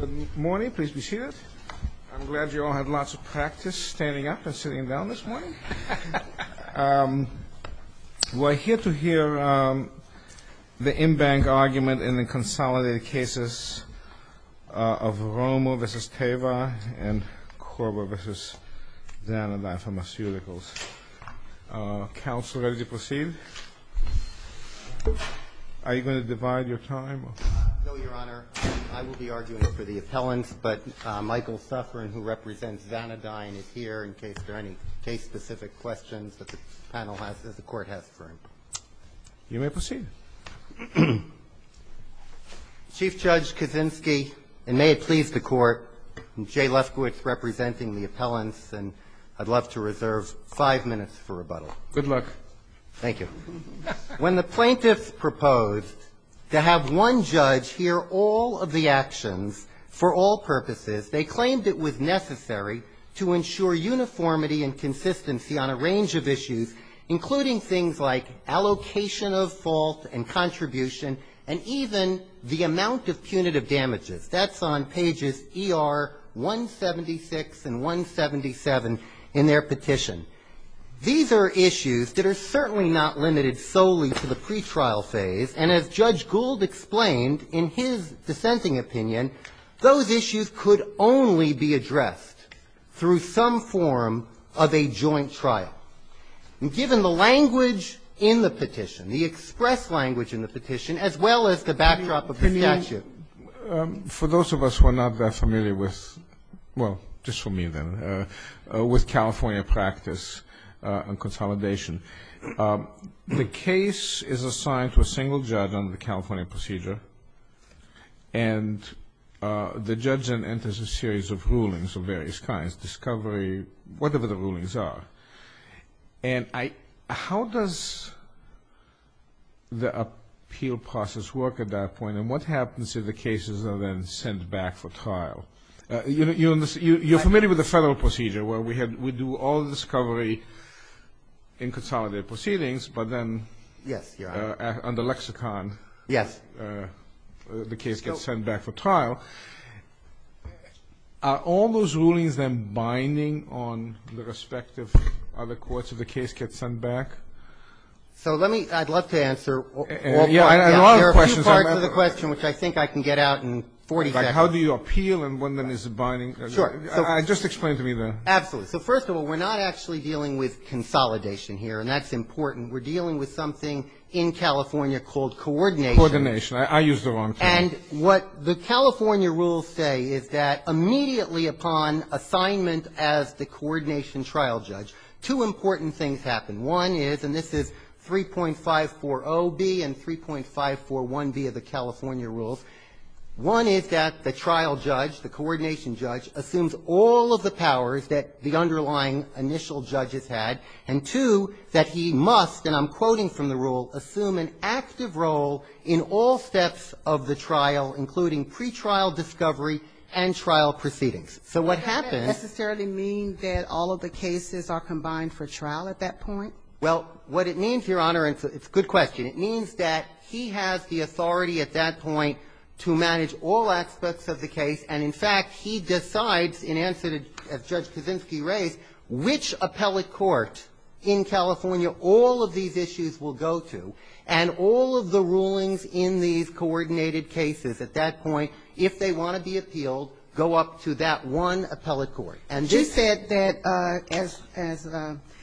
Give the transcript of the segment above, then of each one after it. Good morning. Please be seated. I'm glad you all had lots of practice standing up and sitting down this morning. We're here to hear the in-bank argument in the consolidated cases of Romo v. Teva and Korba v. Xanadai Pharmaceuticals. Counsel, ready to proceed? Are you going to divide your time? No, Your Honor. I will be arguing for the appellants, but Michael Suffren, who represents Xanadai, is here in case there are any case-specific questions that the panel has, that the Court has for him. You may proceed. Chief Judge Kaczynski, and may it please the Court, I'm Jay Lefkowitz representing the appellants, and I'd love to reserve five minutes for rebuttal. Good luck. Thank you. When the plaintiffs proposed to have one judge hear all of the actions for all purposes, they claimed it was necessary to ensure uniformity and consistency on a range of issues, including things like allocation of fault and contribution and even the amount of punitive damages. That's on pages ER 176 and 177 in their petition. These are issues that are certainly not limited solely to the pretrial phase, and as Judge Gould explained in his dissenting opinion, those issues could only be addressed through some form of a joint trial. And given the language in the petition, the express language in the petition, as well as the backdrop of the statute. For those of us who are not that familiar with, well, just for me then, with California practice on consolidation, the case is assigned to a single judge under the California procedure, and the judge then enters a series of rulings of various kinds, discovery, whatever the rulings are. And how does the appeal process work at that point, and what happens if the cases are then sent back for trial? You're familiar with the federal procedure where we do all the discovery in consolidated proceedings, but then under lexicon the case gets sent back for trial. Are all those rulings then binding on the respective other courts if the case gets sent back? So let me, I'd love to answer. There are a few parts of the question which I think I can get out in 40 seconds. Like how do you appeal and when then is it binding? Sure. Just explain to me that. Absolutely. So first of all, we're not actually dealing with consolidation here, and that's important. We're dealing with something in California called coordination. Coordination. I used the wrong term. And what the California rules say is that immediately upon assignment as the coordination trial judge, two important things happen. One is, and this is 3.540B and 3.541B of the California rules, one is that the trial judge, the coordination judge, assumes all of the powers that the underlying initial judge has had, and two, that he must, and I'm quoting from the rule, assume an active role in all steps of the trial, including pretrial discovery and trial proceedings. So what happens Is that necessarily mean that all of the cases are combined for trial at that point? Well, what it means, Your Honor, and it's a good question, it means that he has the authority at that point to manage all aspects of the case. And in fact, he decides, in answer to Judge Kaczynski raised, which appellate court in California all of these issues will go to, and all of the rulings in these coordinated cases at that point, if they want to be appealed, go up to that one appellate court. And this ---- She said that, as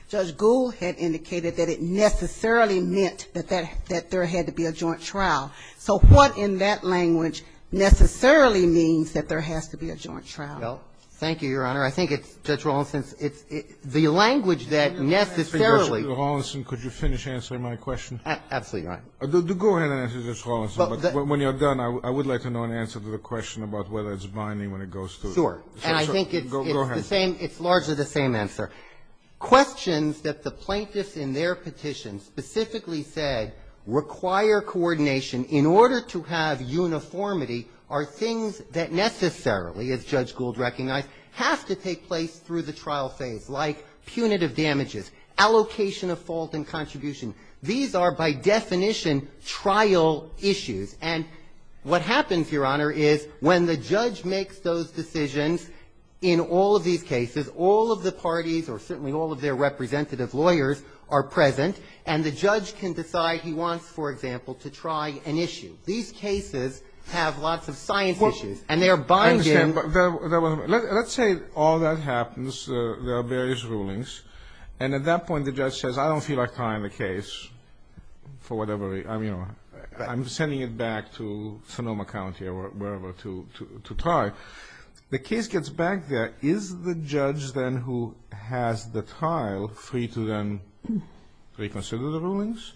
Judge Gould had indicated, that it necessarily meant that there had to be a joint trial. So what in that language necessarily means that there has to be a joint trial? Well, thank you, Your Honor. I think it's, Judge Rawlinson, it's the language that necessarily ---- Mr. Rawlinson, could you finish answering my question? Absolutely, Your Honor. Go ahead and answer, Judge Rawlinson. But when you're done, I would like to know an answer to the question about whether it's binding when it goes to ---- Sure. And I think it's the same. Go ahead. It's largely the same answer. Questions that the plaintiffs in their petition specifically said require coordination in order to have uniformity are things that necessarily, as Judge Gould recognized, have to take place through the trial phase, like punitive damages, allocation of fault and contribution. These are, by definition, trial issues. And what happens, Your Honor, is when the judge makes those decisions in all of these cases, all of the parties or certainly all of their representative lawyers are present, and the judge can decide he wants, for example, to try an issue. These cases have lots of science issues. And they're binding. I understand. Let's say all that happens, there are various rulings, and at that point the judge says I don't feel like trying the case for whatever reason. I'm sending it back to Sonoma County or wherever to try. The case gets back there. Is the judge then who has the trial free to then reconsider the rulings,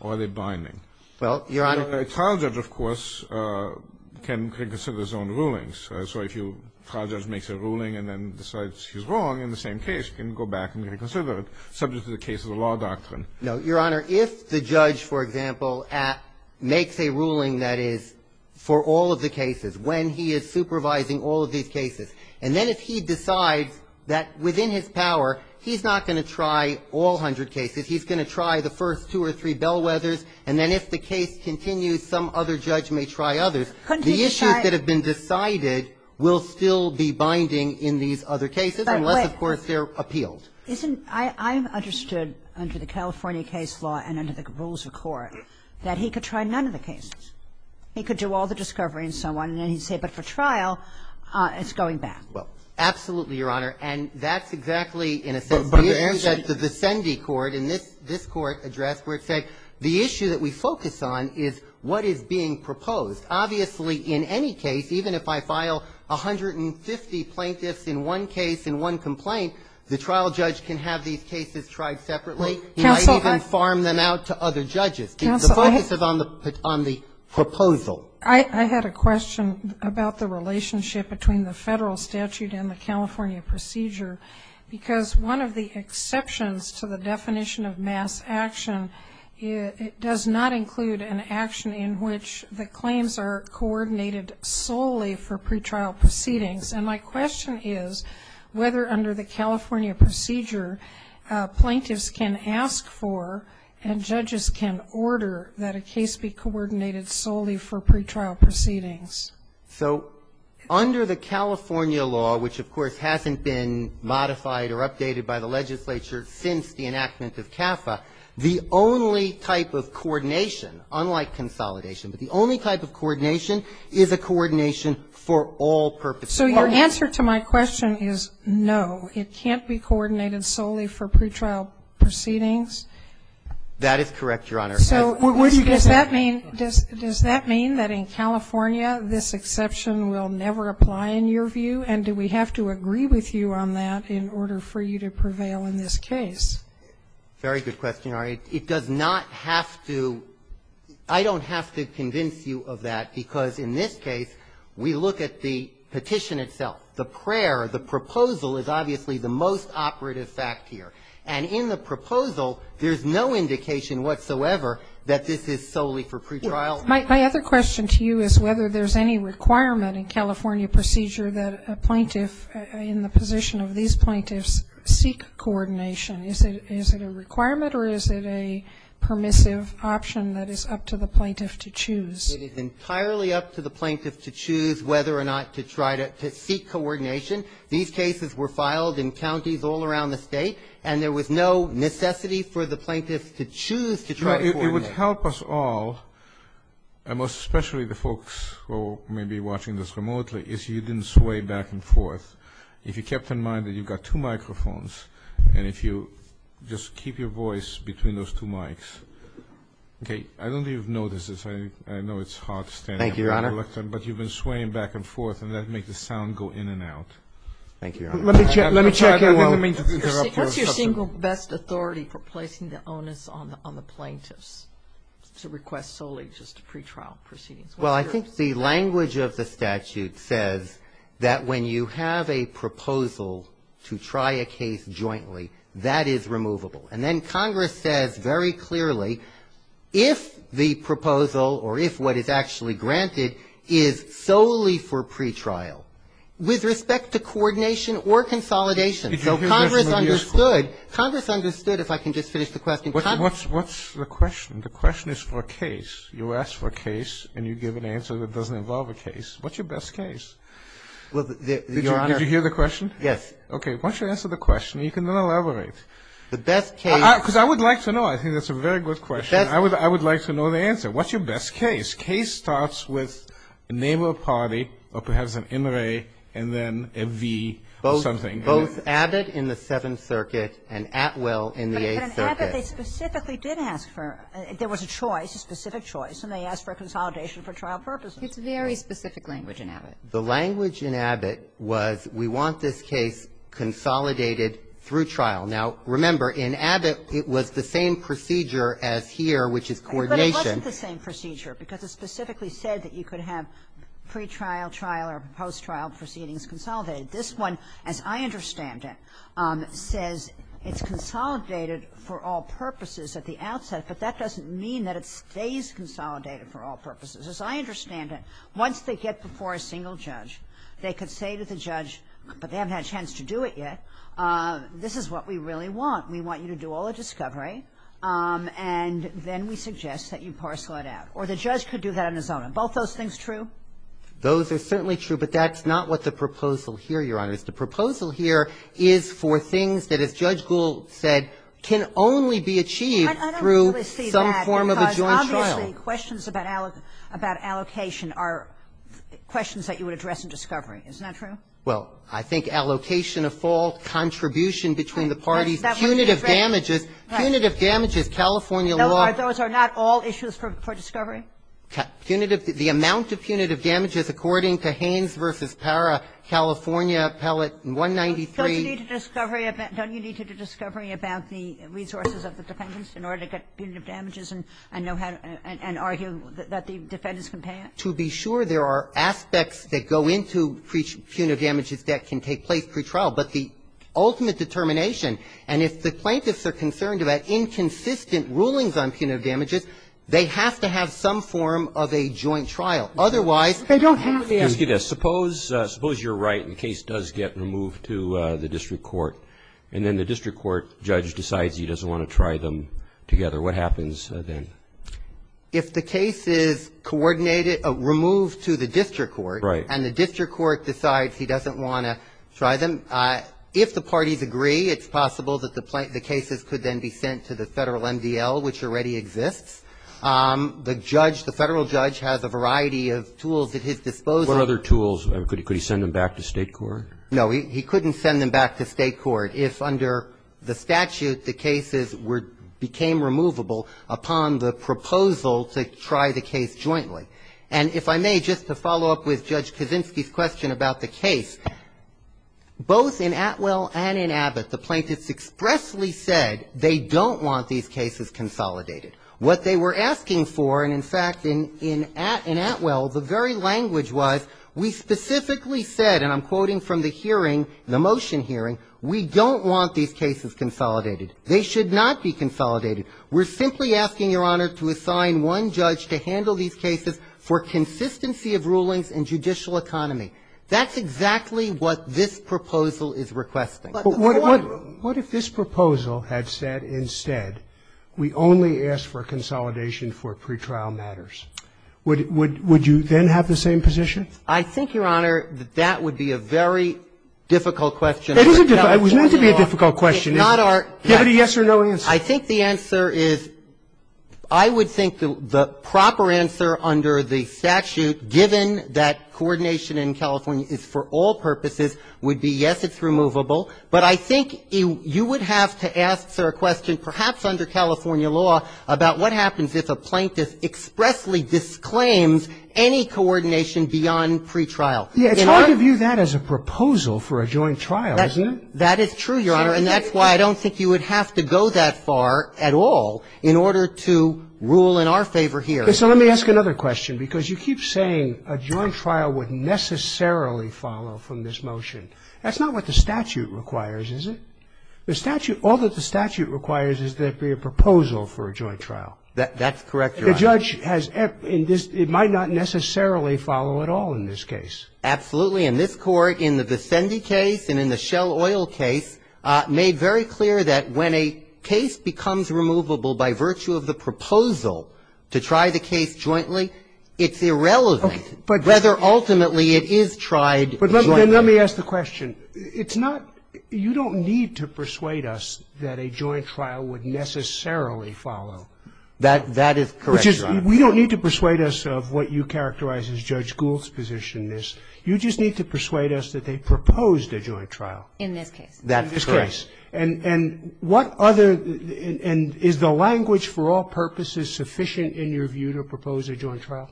or are they binding? Well, Your Honor. A trial judge, of course, can reconsider his own rulings. So if a trial judge makes a ruling and then decides he's wrong in the same case, he can go back and reconsider it subject to the case of the law doctrine. No, Your Honor. If the judge, for example, makes a ruling that is for all of the cases, when he is supervising all of these cases, and then if he decides that within his power he's not going to try all hundred cases, he's going to try the first two or three bellwethers, and then if the case continues, some other judge may try others. Couldn't he decide? The issues that have been decided will still be binding in these other cases unless, of course, they're appealed. Isn't — I understood under the California case law and under the rules of court that he could try none of the cases. He could do all the discovery and so on. And then he'd say, but for trial, it's going back. Well, absolutely, Your Honor. And that's exactly, in a sense, the issue that the Vicendi Court in this — this court addressed where it said the issue that we focus on is what is being proposed. Obviously, in any case, even if I file 150 plaintiffs in one case in one complaint, the trial judge can have these cases tried separately. He might even farm them out to other judges. Counsel, I — This is on the proposal. I had a question about the relationship between the Federal statute and the California procedure, because one of the exceptions to the definition of mass action, it does not include an action in which the claims are coordinated solely for pretrial proceedings. And my question is whether under the California procedure, plaintiffs can ask for and judges can order that a case be coordinated solely for pretrial proceedings. So under the California law, which, of course, hasn't been modified or updated by the legislature since the enactment of CAFA, the only type of coordination, unlike consolidation, but the only type of coordination is a coordination for all purposes. So your answer to my question is no. It can't be coordinated solely for pretrial proceedings? That is correct, Your Honor. So what does that mean? Does that mean that in California this exception will never apply in your view? And do we have to agree with you on that in order for you to prevail in this case? Very good question, Your Honor. It does not have to — I don't have to convince you of that, because in this case we look at the petition itself. The prayer, the proposal is obviously the most operative fact here. And in the proposal, there's no indication whatsoever that this is solely for pretrial proceedings. My other question to you is whether there's any requirement in California procedure that a plaintiff in the position of these plaintiffs seek coordination. Is it a requirement or is it a permissive option that is up to the plaintiff to choose? It is entirely up to the plaintiff to choose whether or not to try to seek coordination. These cases were filed in counties all around the State, and there was no necessity for the plaintiff to choose to try to coordinate. It would help us all, and especially the folks who may be watching this remotely, if you didn't sway back and forth, if you kept in mind that you've got two microphones and if you just keep your voice between those two mics. Okay. I don't think you've noticed this. I know it's hard to stand up and look, but you've been swaying back and forth and that makes the sound go in and out. Thank you, Your Honor. Let me check. I didn't mean to interrupt. What's your single best authority for placing the onus on the plaintiffs to request solely just pretrial proceedings? Well, I think the language of the statute says that when you have a proposal to try a case jointly, that is removable. And then Congress says very clearly if the proposal or if what is actually granted is solely for pretrial, with respect to coordination or consolidation. So Congress understood. Congress understood, if I can just finish the question. What's the question? The question is for a case. You ask for a case and you give an answer that doesn't involve a case. What's your best case? Well, Your Honor. Did you hear the question? Yes. Why don't you answer the question and you can then elaborate. The best case. Because I would like to know. I think that's a very good question. I would like to know the answer. What's your best case? Case starts with a name of a party or perhaps an NRA and then a V or something. Both Abbott in the Seventh Circuit and Atwell in the Eighth Circuit. But in Abbott, they specifically did ask for, there was a choice, a specific choice, and they asked for a consolidation for trial purposes. It's very specific language in Abbott. The language in Abbott was we want this case consolidated through trial. Now, remember, in Abbott, it was the same procedure as here, which is coordination. But it wasn't the same procedure because it specifically said that you could have pretrial, trial, or post-trial proceedings consolidated. This one, as I understand it, says it's consolidated for all purposes at the outset. But that doesn't mean that it stays consolidated for all purposes. As I understand it, once they get before a single judge, they could say to the judge, but they haven't had a chance to do it yet, this is what we really want. We want you to do all the discovery, and then we suggest that you parcel it out. Or the judge could do that on his own. Are both those things true? Those are certainly true, but that's not what the proposal here, Your Honor, is. The proposal here is for things that, as Judge Gould said, can only be achieved through some form of a joint trial. So the questions about allocation are questions that you would address in discovery. Isn't that true? Well, I think allocation of fault, contribution between the parties, punitive damages, punitive damages, California law. Those are not all issues for discovery? Punitive. The amount of punitive damages according to Haynes v. Parra, California Appellate 193. Don't you need to do discovery about the resources of the defendants in order to get an argument and argue that the defendants can pay it? To be sure, there are aspects that go into punitive damages that can take place pretrial, but the ultimate determination, and if the plaintiffs are concerned about inconsistent rulings on punitive damages, they have to have some form of a joint trial. Otherwise, they don't have to. Let me ask you this. Suppose you're right and the case does get removed to the district court, and then the district court judge decides he doesn't want to try them together. What happens then? If the case is coordinated, removed to the district court, and the district court decides he doesn't want to try them, if the parties agree, it's possible that the cases could then be sent to the Federal MDL, which already exists. The judge, the Federal judge, has a variety of tools at his disposal. What other tools? Could he send them back to State court? No. He couldn't send them back to State court if, under the statute, the cases became removable upon the proposal to try the case jointly. And if I may, just to follow up with Judge Kaczynski's question about the case, both in Atwell and in Abbott, the plaintiffs expressly said they don't want these cases consolidated. What they were asking for, and in fact, in Atwell, the very language was, we specifically said, and I'm quoting from the hearing, the motion hearing, we don't want these cases consolidated. They should not be consolidated. We're simply asking, Your Honor, to assign one judge to handle these cases for consistency of rulings and judicial economy. That's exactly what this proposal is requesting. But what if this proposal had said instead, we only ask for consolidation for pretrial matters? Would you then have the same position? I think, Your Honor, that that would be a very difficult question. It is a difficult question. It was meant to be a difficult question. Give it a yes or no answer. I think the answer is, I would think the proper answer under the statute, given that coordination in California is for all purposes, would be yes, it's removable. But I think you would have to ask, sir, a question, perhaps under California law, about what happens if a plaintiff expressly disclaims any coordination beyond pretrial. Yeah. It's hard to view that as a proposal for a joint trial, isn't it? That is true, Your Honor, and that's why I don't think you would have to go that far at all in order to rule in our favor here. So let me ask another question, because you keep saying a joint trial would necessarily follow from this motion. That's not what the statute requires, is it? The statute, all that the statute requires is there be a proposal for a joint trial. That's correct, Your Honor. The judge has, in this, it might not necessarily follow at all in this case. Absolutely. In this Court, in the Vicendi case and in the Shell Oil case, made very clear that when a case becomes removable by virtue of the proposal to try the case jointly, it's irrelevant whether ultimately it is tried jointly. But let me ask the question. It's not, you don't need to persuade us that a joint trial would necessarily follow. That is correct, Your Honor. We don't need to persuade us of what you characterize as Judge Gould's position in this. You just need to persuade us that they proposed a joint trial. In this case. That's correct. And what other, and is the language for all purposes sufficient in your view to propose a joint trial?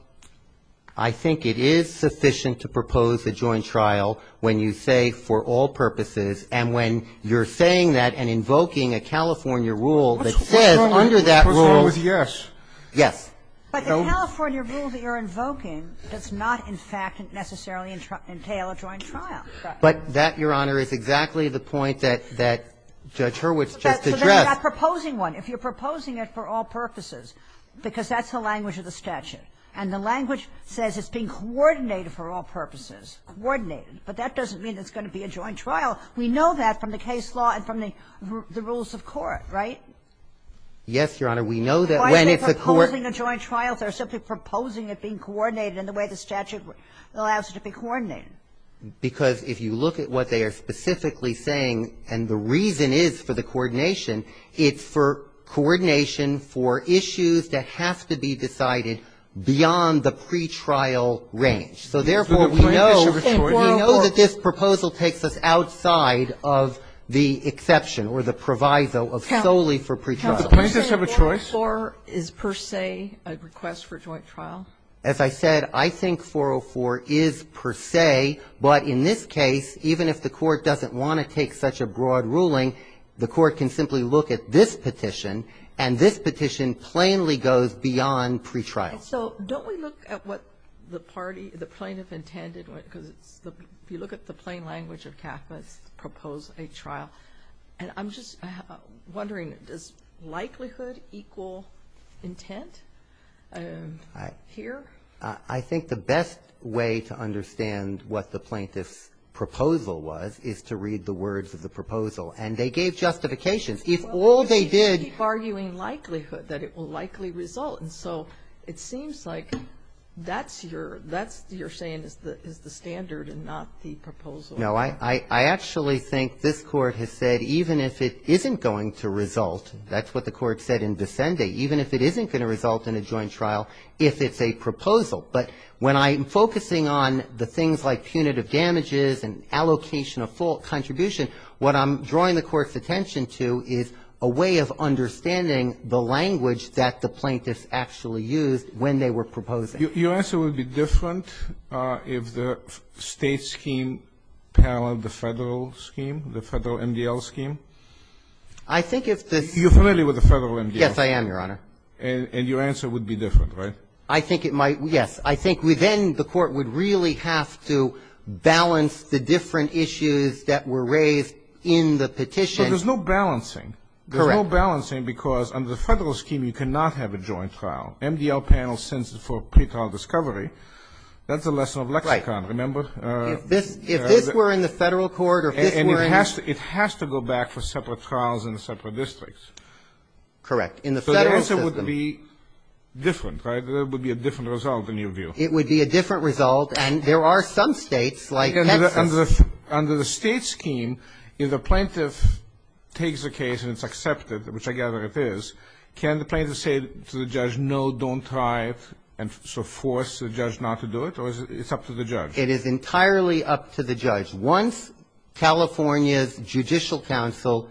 I think it is sufficient to propose a joint trial when you say for all purposes, and when you're saying that and invoking a California rule that says under that rule Yes. But the California rule that you're invoking does not, in fact, necessarily entail a joint trial. But that, Your Honor, is exactly the point that Judge Hurwitz just addressed. So they're not proposing one. If you're proposing it for all purposes, because that's the language of the statute and the language says it's being coordinated for all purposes, coordinated. But that doesn't mean it's going to be a joint trial. We know that from the case law and from the rules of court, right? Yes, Your Honor. We know that when it's a court Why are they proposing a joint trial if they're simply proposing it being coordinated in the way the statute allows it to be coordinated? Because if you look at what they are specifically saying, and the reason is for the pre-trial range. So, therefore, we know that this proposal takes us outside of the exception or the proviso of solely for pre-trial. Counsel, do plaintiffs have a choice? Is 404 per se a request for joint trial? As I said, I think 404 is per se. But in this case, even if the Court doesn't want to take such a broad ruling, the Court can simply look at this petition, and this petition plainly goes beyond pre-trial. So don't we look at what the plaintiff intended? Because if you look at the plain language of CAFPA, it's to propose a trial. And I'm just wondering, does likelihood equal intent here? I think the best way to understand what the plaintiff's proposal was is to read the words of the proposal. And they gave justifications. If all they did You keep arguing likelihood, that it will likely result. And so it seems like that's your saying is the standard and not the proposal. No. I actually think this Court has said even if it isn't going to result, that's what the Court said in Vicende, even if it isn't going to result in a joint trial, if it's a proposal. But when I'm focusing on the things like punitive damages and allocation of full contribution, what I'm drawing the Court's attention to is a way of understanding the language that the plaintiffs actually used when they were proposing. Your answer would be different if the State scheme paralleled the Federal scheme, the Federal MDL scheme? I think if the You're familiar with the Federal MDL scheme? Yes, I am, Your Honor. And your answer would be different, right? I think it might. Yes. I think then the Court would really have to balance the different issues that were raised in the petition. But there's no balancing. Correct. There's no balancing because under the Federal scheme, you cannot have a joint trial. MDL panel sends it for pretrial discovery. That's a lesson of lexicon. Right. Remember? If this were in the Federal court or if this were in the It has to go back for separate trials in separate districts. Correct. In the Federal system. So the answer would be different, right? There would be a different result, in your view. It would be a different result. And there are some States like Texas Under the State scheme, if the plaintiff takes a case and it's accepted, which I gather it is, can the plaintiff say to the judge, no, don't try it, and so force the judge not to do it, or is it up to the judge? It is entirely up to the judge. Once California's judicial counsel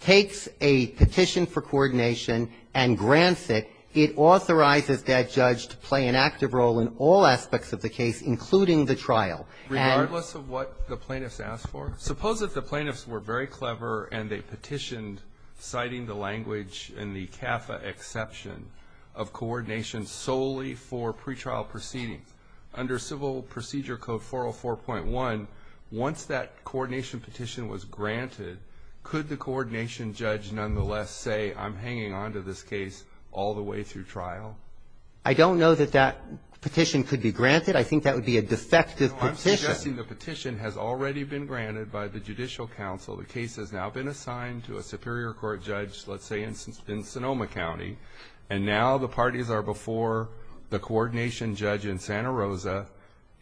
takes a petition for coordination and grants it, it authorizes that judge to play an active role in all aspects of the case, including the trial. And regardless of what the plaintiffs ask for? Suppose if the plaintiffs were very clever and they petitioned, citing the language in the CAFA exception, of coordination solely for pretrial proceedings. Under Civil Procedure Code 404.1, once that coordination petition was granted, could the coordination judge nonetheless say, I'm hanging on to this case all the way through trial? I don't know that that petition could be granted. I think that would be a defective petition. I'm suggesting the petition has already been granted by the judicial counsel. The case has now been assigned to a superior court judge, let's say in Sonoma County, and now the parties are before the coordination judge in Santa Rosa,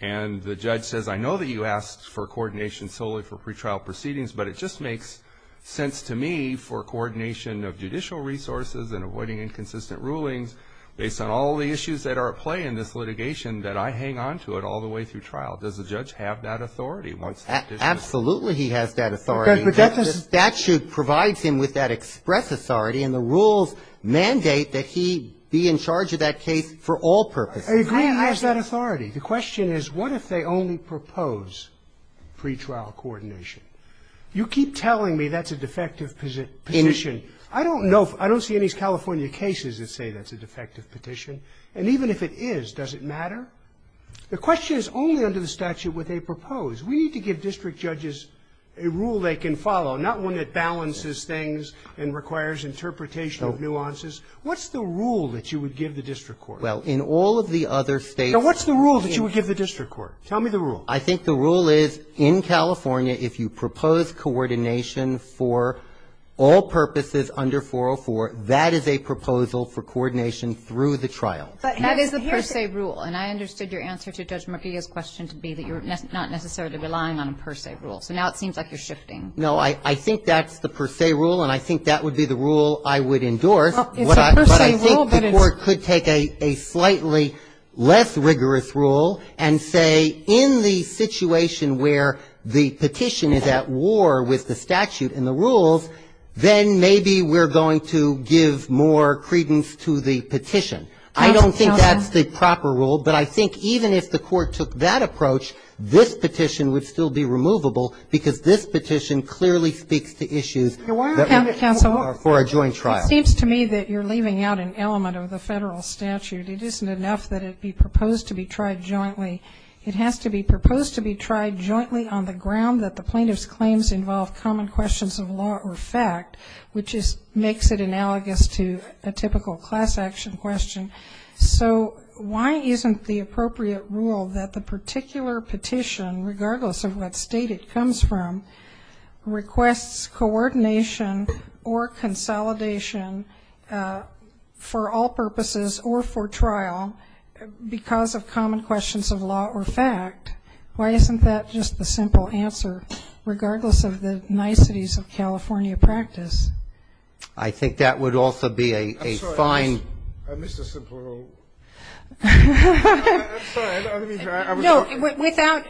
and the judge says, I know that you asked for coordination solely for pretrial proceedings, but it just makes sense to me for coordination of judicial resources and avoiding inconsistent rulings based on all the issues that are at play in this litigation that I hang on to it all the way through trial. Does the judge have that authority once the petition is granted? Absolutely he has that authority. The statute provides him with that express authority, and the rules mandate that he be in charge of that case for all purposes. I agree he has that authority. The question is, what if they only propose pretrial coordination? You keep telling me that's a defective petition. I don't know, I don't see any California cases that say that's a defective petition. And even if it is, does it matter? The question is only under the statute would they propose. We need to give district judges a rule they can follow, not one that balances things and requires interpretation of nuances. What's the rule that you would give the district court? Well, in all of the other States that we've been in. Now, what's the rule that you would give the district court? Tell me the rule. I think the rule is, in California, if you propose coordination for all purposes under 404, that is a proposal for coordination through the trial. That is the per se rule. And I understood your answer to Judge Murguia's question to be that you're not necessarily relying on a per se rule. So now it seems like you're shifting. No. I think that's the per se rule, and I think that would be the rule I would endorse. But I think the court could take a slightly less rigorous rule and say in the situation where the petition is at war with the statute and the rules, then maybe we're going to give more credence to the petition. I don't think that's the proper rule, but I think even if the court took that approach, this petition would still be removable because this petition clearly speaks to issues that are for a joint trial. Counsel, it seems to me that you're leaving out an element of the Federal statute. It isn't enough that it be proposed to be tried jointly. It has to be proposed to be tried jointly on the ground that the plaintiff's claims involve common questions of law or fact, which makes it analogous to a typical class action question. So why isn't the appropriate rule that the particular petition, regardless of what state it comes from, requests coordination or consolidation for all purposes or for trial because of common questions of law or fact? Why isn't that just the simple answer, regardless of the niceties of California practice? I think that would also be a fine ---- I'm sorry. I missed a simple rule. I'm sorry. Let me try. No.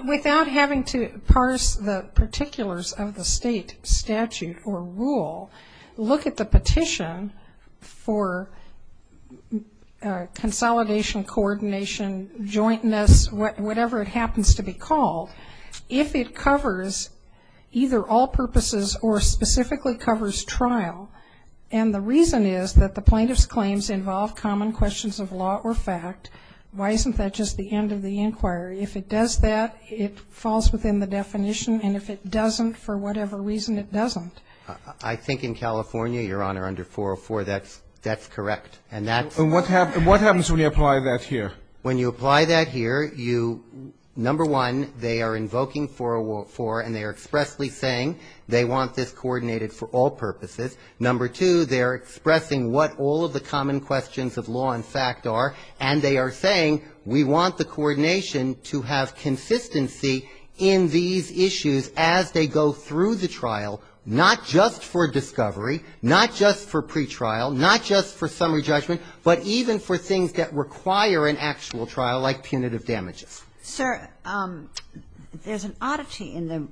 Without having to parse the particulars of the state statute or rule, look at the petition for consolidation, coordination, jointness, whatever it happens to be called. If it covers either all purposes or specifically covers trial, and the reason is that the plaintiff's claims involve common questions of law or fact, why isn't that just the end of the inquiry? If it does that, it falls within the definition. And if it doesn't, for whatever reason, it doesn't. I think in California, Your Honor, under 404, that's correct. And that's ---- And what happens when you apply that here? When you apply that here, you, number one, they are invoking 404 and they are expressly saying they want this coordinated for all purposes. Number two, they are expressing what all of the common questions of law and fact are, and they are saying we want the coordination to have consistency in these issues as they go through the trial, not just for discovery, not just for pretrial, not just for summary judgment, but even for things that require an actual trial, like punitive damages. Sir, there's an oddity in the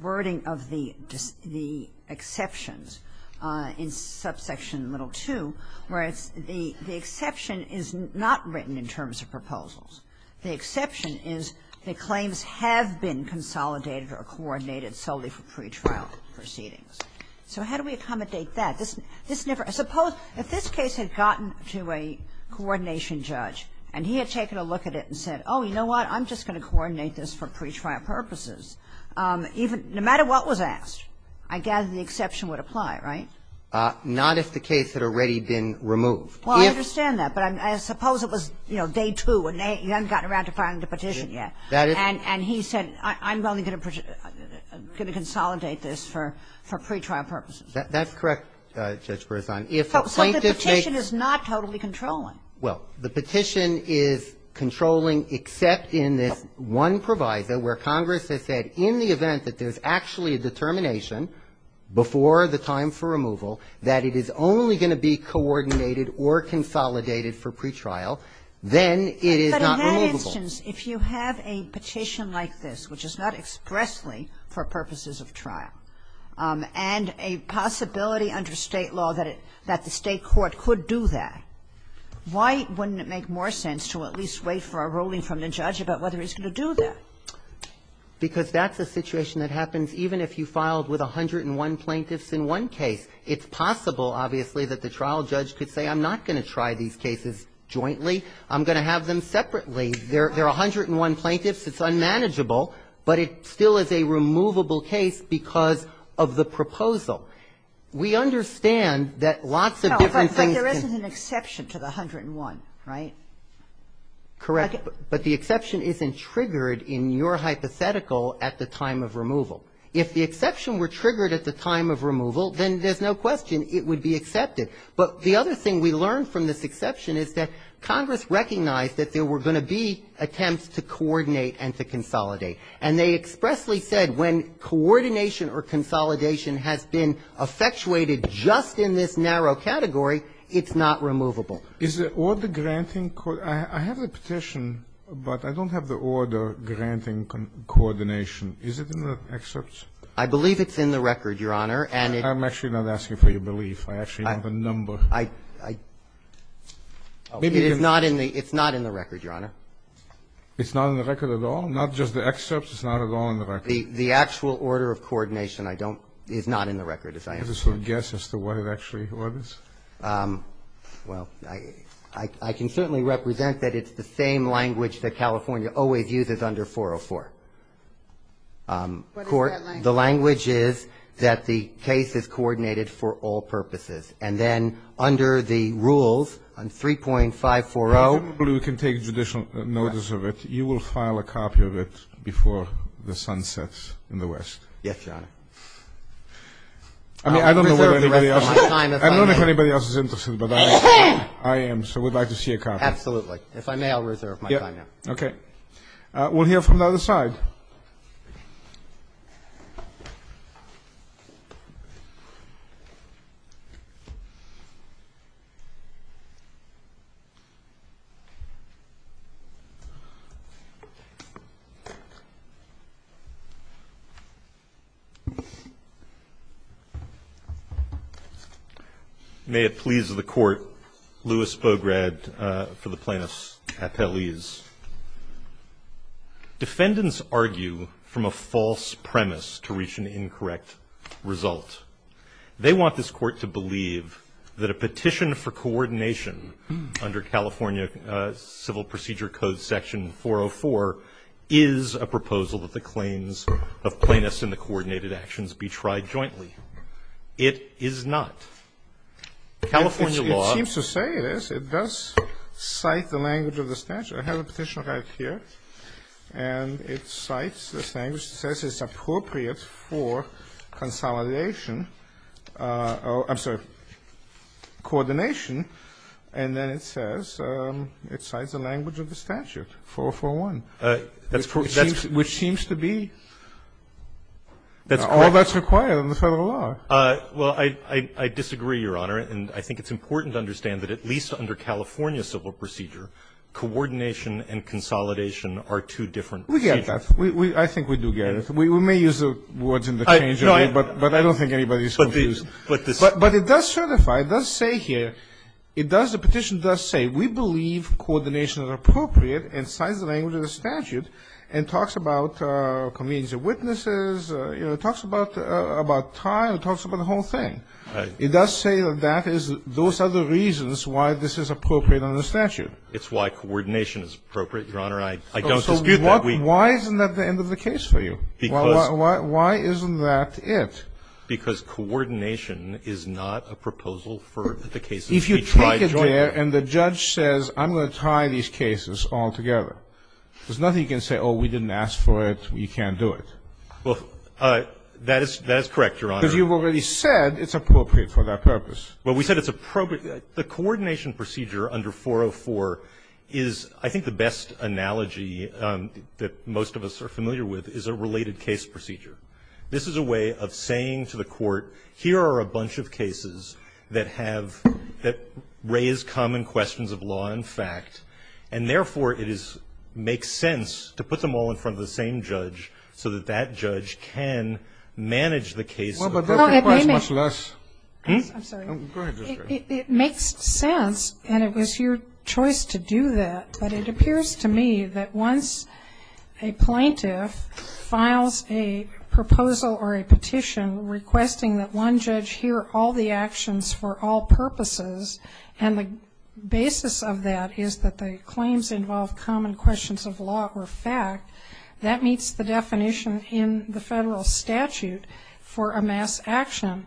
wording of the exceptions in subsection little two, where it's the exception is not written in terms of proposals. The exception is the claims have been consolidated or coordinated solely for pretrial proceedings. So how do we accommodate that? This never ---- suppose if this case had gotten to a coordination judge and he had taken a look at it and said, oh, you know what, I'm just going to coordinate this for pretrial purposes, even no matter what was asked, I gather the exception would apply, right? Not if the case had already been removed. Well, I understand that, but I suppose it was, you know, day two and you haven't gotten around to filing the petition yet. That is ---- And he said, I'm only going to consolidate this for pretrial purposes. That's correct, Judge Beresan. So the petition is not totally controlling? Well, the petition is controlling except in this one proviso where Congress has said in the event that there's actually a determination before the time for removal that it is only going to be coordinated or consolidated for pretrial, then it is not removable. But in that instance, if you have a petition like this, which is not expressly for purposes of trial, and a possibility under State law that it ---- that the State court could do that, why wouldn't it make more sense to at least wait for a ruling from the judge about whether he's going to do that? Because that's a situation that happens even if you filed with 101 plaintiffs in one case. It's possible, obviously, that the trial judge could say I'm not going to try these cases jointly, I'm going to have them separately. They're 101 plaintiffs, it's unmanageable, but it still is a removable case because of the proposal. We understand that lots of different things can ---- But there isn't an exception to the 101, right? Correct. But the exception isn't triggered in your hypothetical at the time of removal. If the exception were triggered at the time of removal, then there's no question it would be accepted. But the other thing we learned from this exception is that Congress recognized that there were going to be attempts to coordinate and to consolidate. And they expressly said when coordination or consolidation has been effectuated just in this narrow category, it's not removable. Is the order granting ---- I have a petition, but I don't have the order granting coordination. Is it in the excerpts? I believe it's in the record, Your Honor, and it's ---- I'm actually not asking for your belief. I actually have a number. It is not in the ---- it's not in the record, Your Honor. It's not in the record at all? Not just the excerpts? It's not at all in the record? The actual order of coordination, I don't ---- is not in the record, as I understand. Is this a guess as to what it actually orders? Well, I can certainly represent that it's the same language that California always uses under 404. What is that language? The language is that the case is coordinated for all purposes. And then under the rules on 3.540 ---- Well, presumably we can take judicial notice of it. You will file a copy of it before the sun sets in the West. Yes, Your Honor. I mean, I don't know if anybody else is interested, but I am, so we'd like to see a copy. Absolutely. If I may, I'll reserve my time now. Okay. We'll hear from the other side. May it please the Court, Louis Bograd for the Plaintiffs' Appellees. Defendants argue from a false premise to reach an incorrect result. They want this Court to believe that a petition for coordination under California Civil Procedure Code section 404 is a proposal that the claims of plaintiffs and the coordinated actions be tried jointly. It is not. California law ---- It seems to say it is. It does cite the language of the statute. I have a petition right here, and it cites this language. It says it's appropriate for consolidation or, I'm sorry, coordination. And then it says it cites the language of the statute, 404-1. That's ---- Which seems to be all that's required in the Federal law. Well, I disagree, Your Honor. And I think it's important to understand that at least under California Civil Procedure Code, coordination and consolidation are two different procedures. We get that. I think we do get it. We may use the words in the change, but I don't think anybody is confused. But it does certify, it does say here, it does, the petition does say, we believe coordination is appropriate and cites the language of the statute and talks about convenience of witnesses, you know, talks about time, talks about the whole thing. It does say that that is, those are the reasons why this is appropriate under the statute. It's why coordination is appropriate, Your Honor. I don't dispute that. So why isn't that the end of the case for you? Because ---- Why isn't that it? Because coordination is not a proposal for the cases we tried jointly. If you take it there and the judge says, I'm going to tie these cases all together, there's nothing you can say, oh, we didn't ask for it, we can't do it. Well, that is correct, Your Honor. Because you've already said it's appropriate for that purpose. Well, we said it's appropriate. The coordination procedure under 404 is, I think the best analogy that most of us are familiar with, is a related case procedure. This is a way of saying to the court, here are a bunch of cases that have, that raise common questions of law and fact, and therefore it is, makes sense to put them all in front of the same judge so that that judge can manage the case. Well, but that requires much less. I'm sorry. Go ahead. It makes sense, and it was your choice to do that. But it appears to me that once a plaintiff files a proposal or a petition requesting that one judge hear all the actions for all purposes, and the basis of that is that the claims involve common questions of law or fact, that meets the definition in the federal statute for a mass action.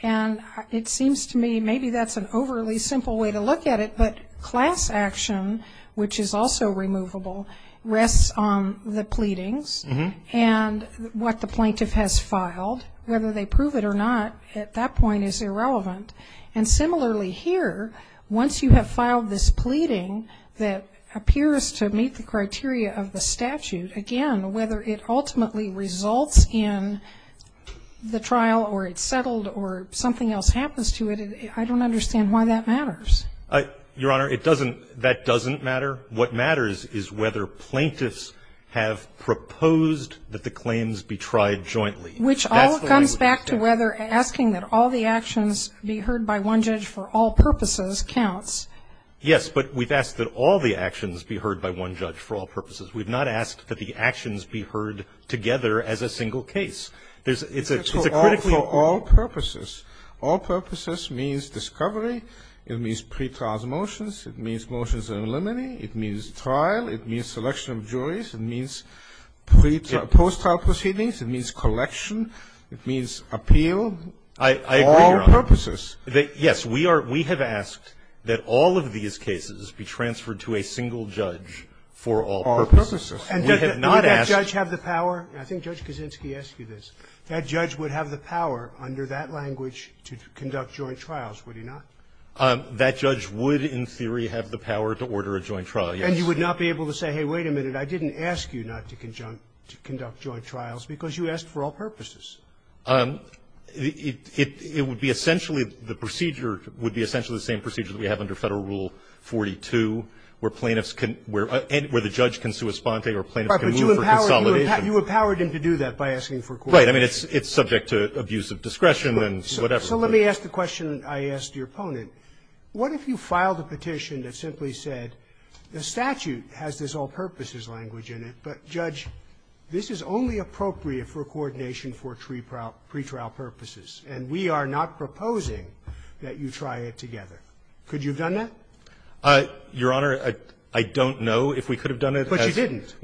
And it seems to me maybe that's an overly simple way to look at it, but class action, which is also removable, rests on the pleadings and what the plaintiff has filed. Whether they prove it or not at that point is irrelevant. And similarly here, once you have filed this pleading that appears to meet the criteria of the statute, again, whether it ultimately results in the trial or it's settled or something else happens to it, I don't understand why that matters. Your Honor, it doesn't, that doesn't matter. What matters is whether plaintiffs have proposed that the claims be tried jointly. Which all comes back to whether asking that all the actions be heard by one judge for all purposes counts. Yes, but we've asked that all the actions be heard by one judge for all purposes. We've not asked that the actions be heard together as a single case. It's a critical issue. It's for all purposes. All purposes means discovery. It means pre-trial motions. It means motions in limine. It means trial. It means selection of juries. It means pre-trial, post-trial proceedings. It means collection. It means appeal. I agree, Your Honor. All purposes. Yes, we are, we have asked that all of these cases be transferred to a single judge for all purposes. All purposes. We have not asked. And does that judge have the power? I think Judge Kaczynski asked you this. That judge would have the power under that language to conduct joint trials, would he not? That judge would, in theory, have the power to order a joint trial, yes. And you would not be able to say, hey, wait a minute, I didn't ask you not to conduct joint trials, because you asked for all purposes. It would be essentially, the procedure would be essentially the same procedure that we have under Federal Rule 42, where plaintiffs can, where the judge can sui sponte or plaintiffs can move for consolidation. Right. But you empowered him to do that by asking for coordination. Right. I mean, it's subject to abuse of discretion and whatever. So let me ask the question I asked your opponent. What if you filed a petition that simply said the statute has this all purposes language in it, but judge, this is only appropriate for coordination for pretrial purposes, and we are not proposing that you try it together? Could you have done that? Your Honor, I don't know if we could have done it. But you didn't.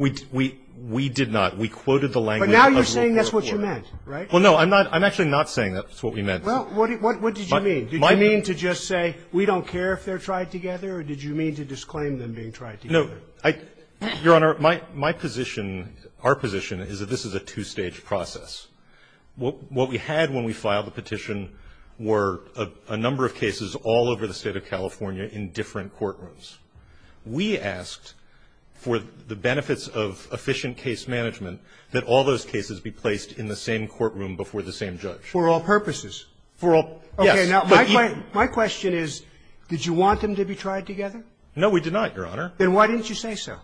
We did not. We quoted the language of the report. But now you're saying that's what you meant, right? Well, no, I'm not. I'm actually not saying that's what we meant. Well, what did you mean? Did you mean to just say we don't care if they're tried together, or did you mean to disclaim them being tried together? No. Your Honor, my position, our position is that this is a two-stage process. What we had when we filed the petition were a number of cases all over the State of California in different courtrooms. We asked for the benefits of efficient case management, that all those cases be placed in the same courtroom before the same judge. For all purposes? For all yes. Okay. Now, my question is, did you want them to be tried together? No, we did not, Your Honor. Then why didn't you say so?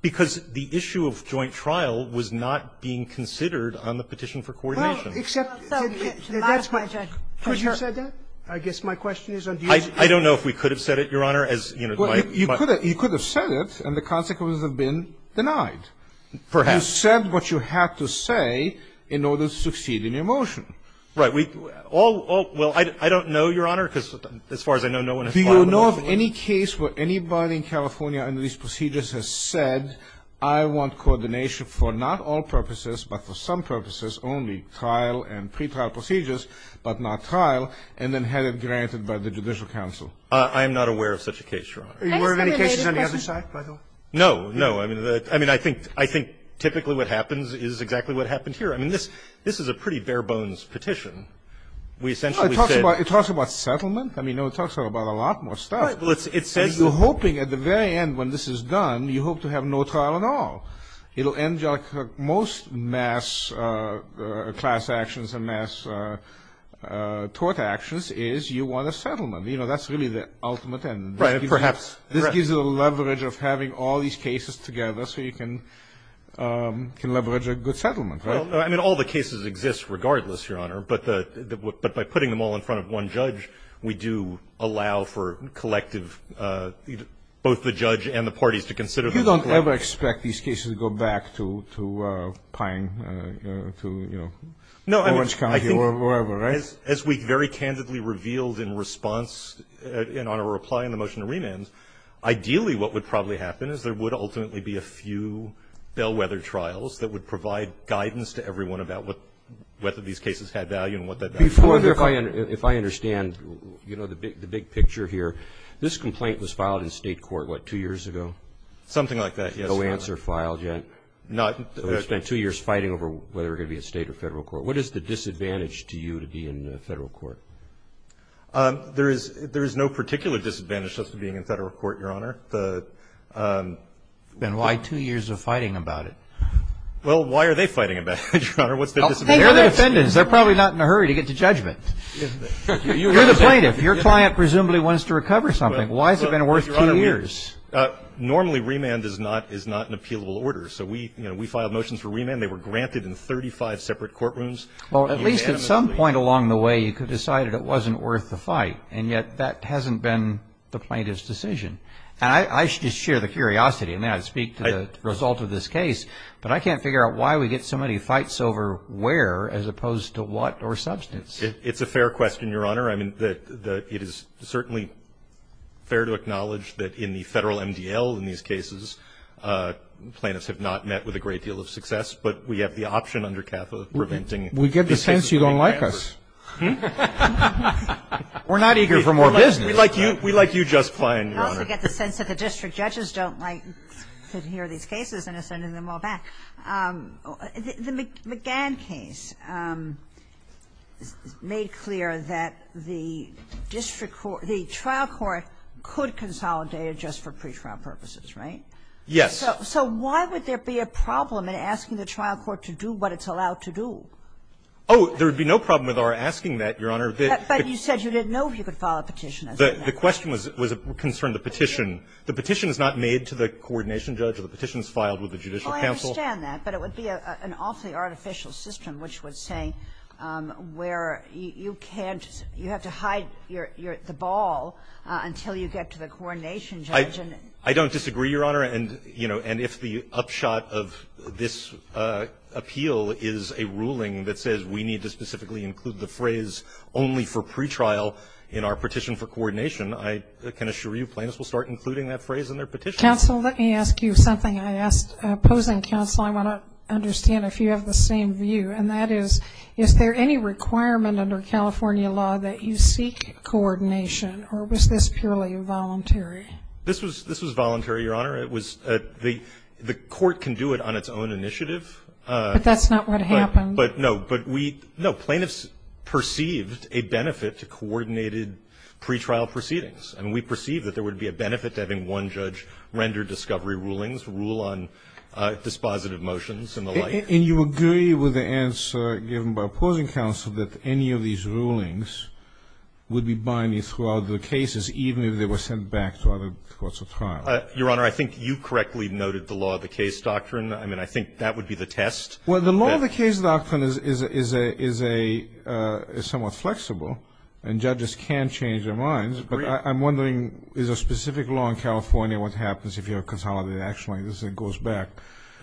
Because the issue of joint trial was not being considered on the petition for coordination. Well, except that's my question. Could you have said that? I guess my question is on the issue. I don't know if we could have said it, Your Honor. You could have said it, and the consequences would have been denied. Perhaps. You said what you had to say in order to succeed in your motion. Right. Well, I don't know, Your Honor, because as far as I know, no one has filed a motion. I don't know of any case where anybody in California under these procedures has said, I want coordination for not all purposes, but for some purposes, only trial and pretrial procedures, but not trial, and then had it granted by the judicial counsel. I am not aware of such a case, Your Honor. Are you aware of any cases on the other side, Michael? No, no. I mean, I think typically what happens is exactly what happened here. I mean, this is a pretty bare-bones petition. We essentially said no. It talks about settlement. I mean, no, it talks about a lot more stuff. It says you're hoping at the very end when this is done, you hope to have no trial at all. It will end your most mass class actions and mass tort actions is you want a settlement. You know, that's really the ultimate end. Right, perhaps. This gives you the leverage of having all these cases together so you can leverage a good settlement, right? I mean, all the cases exist regardless, Your Honor, but by putting them all in front of one judge, we do allow for collective, both the judge and the parties to consider them. You don't ever expect these cases to go back to Pine, to, you know, Orange County or wherever, right? No. As we very candidly revealed in response and on our reply in the motion to remand, ideally what would probably happen is there would ultimately be a few bellwether trials that would provide guidance to everyone about whether these cases had value and what that meant. Before, if I understand, you know, the big picture here, this complaint was filed in state court, what, two years ago? Something like that, yes, Your Honor. No answer filed yet? No. It's been two years fighting over whether it would be a state or federal court. What is the disadvantage to you to be in federal court? There is no particular disadvantage just to being in federal court, Your Honor. Then why two years of fighting about it? Well, why are they fighting about it, Your Honor? What's their disadvantage? They're the defendants. They're probably not in a hurry to get to judgment. You're the plaintiff. Your client presumably wants to recover something. Why has it been worth two years? Normally remand is not an appealable order. So we, you know, we filed motions for remand. They were granted in 35 separate courtrooms. Well, at least at some point along the way you could decide it wasn't worth the fight, and yet that hasn't been the plaintiff's decision. And I should just share the curiosity, and then I'd speak to the result of this case, but I can't figure out why we get so many fights over where as opposed to what or substance. It's a fair question, Your Honor. I mean, it is certainly fair to acknowledge that in the federal MDL in these cases, plaintiffs have not met with a great deal of success, but we have the option under CAFA of preventing. We get the sense you don't like us. We're not eager for more business. We like you just fine, Your Honor. We also get the sense that the district judges don't like to hear these cases and are sending them all back. The McGann case made clear that the district court, the trial court could consolidate just for pretrial purposes, right? Yes. So why would there be a problem in asking the trial court to do what it's allowed to do? Oh, there would be no problem with our asking that, Your Honor. But you said you didn't know if you could file a petition. The question was concerned the petition. The petition is not made to the coordination judge. The petition is filed with the judicial counsel. Well, I understand that. But it would be an awfully artificial system, which would say where you can't you have to hide the ball until you get to the coordination judge. I don't disagree, Your Honor. And, you know, and if the upshot of this appeal is a ruling that says we need to specifically include the phrase only for pretrial in our petition for coordination, I can assure you plaintiffs will start including that phrase in their petitions. Counsel, let me ask you something I asked opposing counsel. I want to understand if you have the same view, and that is, is there any requirement under California law that you seek coordination, or was this purely voluntary? This was voluntary, Your Honor. It was the court can do it on its own initiative. But that's not what happened. But, no, but we, no, plaintiffs perceived a benefit to coordinated pretrial proceedings. I mean, we perceived that there would be a benefit to having one judge render discovery rulings, rule on dispositive motions and the like. And you agree with the answer given by opposing counsel that any of these rulings would be binding throughout the cases, even if they were sent back to other courts of trial? Your Honor, I think you correctly noted the law of the case doctrine. I mean, I think that would be the test. Well, the law of the case doctrine is somewhat flexible, and judges can change their minds. But I'm wondering, is there a specific law in California what happens if you have consolidated action like this and it goes back?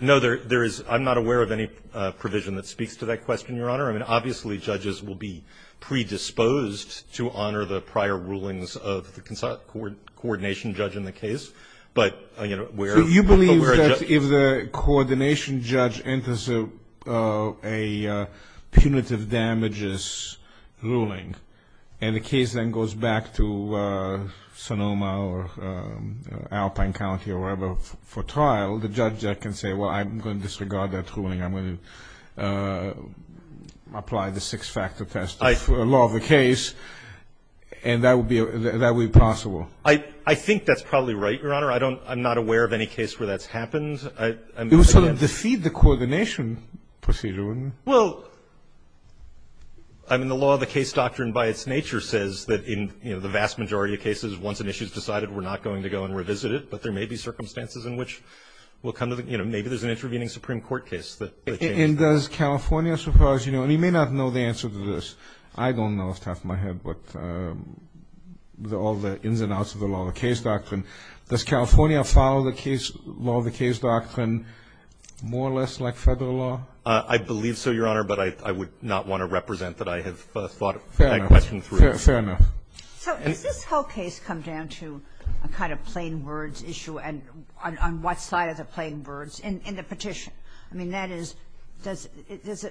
No, there is. I'm not aware of any provision that speaks to that question, Your Honor. I mean, obviously, judges will be predisposed to honor the prior rulings of the coordination judge in the case. But, you know, where a judge enters the case. And the case then goes back to Sonoma or Alpine County or wherever for trial, the judge can say, well, I'm going to disregard that ruling. I'm going to apply the six-factor test of law of the case. And that would be possible. I think that's probably right, Your Honor. I'm not aware of any case where that's happened. It would sort of defeat the coordination procedure, wouldn't it? Well, I mean, the law of the case doctrine by its nature says that in the vast majority of cases, once an issue is decided, we're not going to go and revisit it. But there may be circumstances in which we'll come to the, you know, maybe there's an intervening Supreme Court case that changes that. And does California suppose, you know, and you may not know the answer to this. I don't know off the top of my head, but all the ins and outs of the law of the case doctrine. Does California follow the case law of the case doctrine more or less like Federal law? I believe so, Your Honor. But I would not want to represent that I have thought that question through. Fair enough. So does this whole case come down to a kind of plain words issue and on what side are the plain words in the petition? I mean, that is, does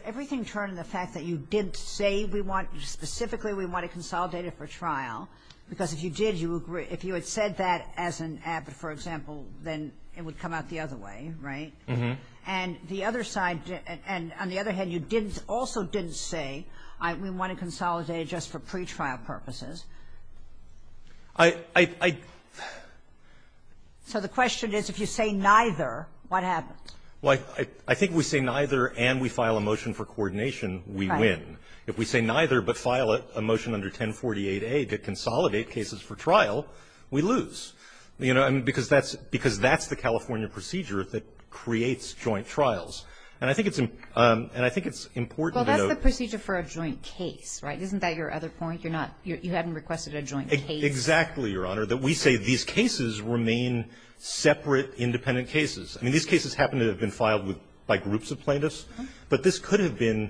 everything turn to the fact that you did say we want, specifically we want to consolidate it for trial? Because if you did, you would agree. If you had said that as an abit, for example, then it would come out the other way, right? And the other side, and on the other hand, you didn't, also didn't say we want to consolidate it just for pretrial purposes. I, I, I. So the question is, if you say neither, what happens? Well, I, I think if we say neither and we file a motion for coordination, we win. If we say neither but file a motion under 1048A to consolidate cases for trial, we lose. You know, I mean, because that's, because that's the California procedure that creates joint trials. And I think it's, and I think it's important to note. Well, that's the procedure for a joint case, right? Isn't that your other point? You're not, you haven't requested a joint case. Exactly, Your Honor. That we say these cases remain separate, independent cases. I mean, these cases happen to have been filed with, by groups of plaintiffs. But this could have been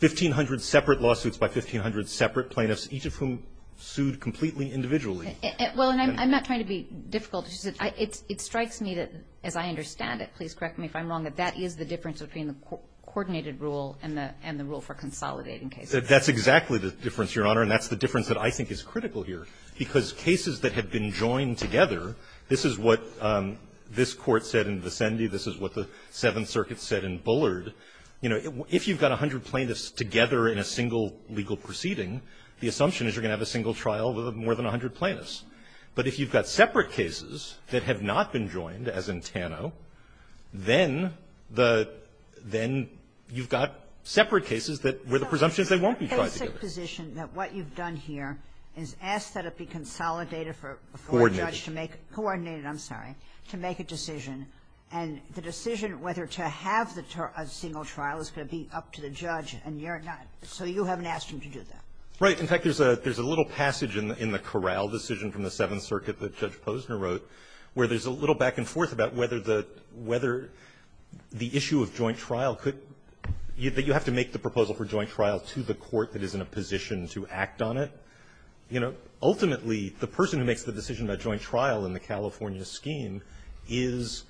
1,500 separate lawsuits by 1,500 separate plaintiffs, each of whom sued completely individually. Well, and I'm, I'm not trying to be difficult. It's, it strikes me that, as I understand it, please correct me if I'm wrong, that that is the difference between the coordinated rule and the, and the rule for consolidating cases. That's exactly the difference, Your Honor, and that's the difference that I think is critical here, because cases that have been joined together, this is what this Court said in Vicendi, this is what the Seventh Circuit said in Bullard, you know, if you've got 100 plaintiffs together in a single legal proceeding, the assumption is you're going to have a single trial with more than 100 plaintiffs. But if you've got separate cases that have not been joined, as in Tano, then the, then you've got separate cases that where the presumptions, they won't be tied together. So it's a basic position that what you've done here is ask that it be consolidated for a foreign judge to make a coordinated, I'm sorry, to make a decision. And the decision whether to have the single trial is going to be up to the judge, and you're not. So you haven't asked him to do that. Rosenkranz. Right. In fact, there's a little passage in the Corral decision from the Seventh Circuit that Judge Posner wrote where there's a little back and forth about whether the, whether the issue of joint trial could, that you have to make the proposal for joint trial to the court that is in a position to act on it. You know, ultimately, the person who makes the decision about joint trial in the case is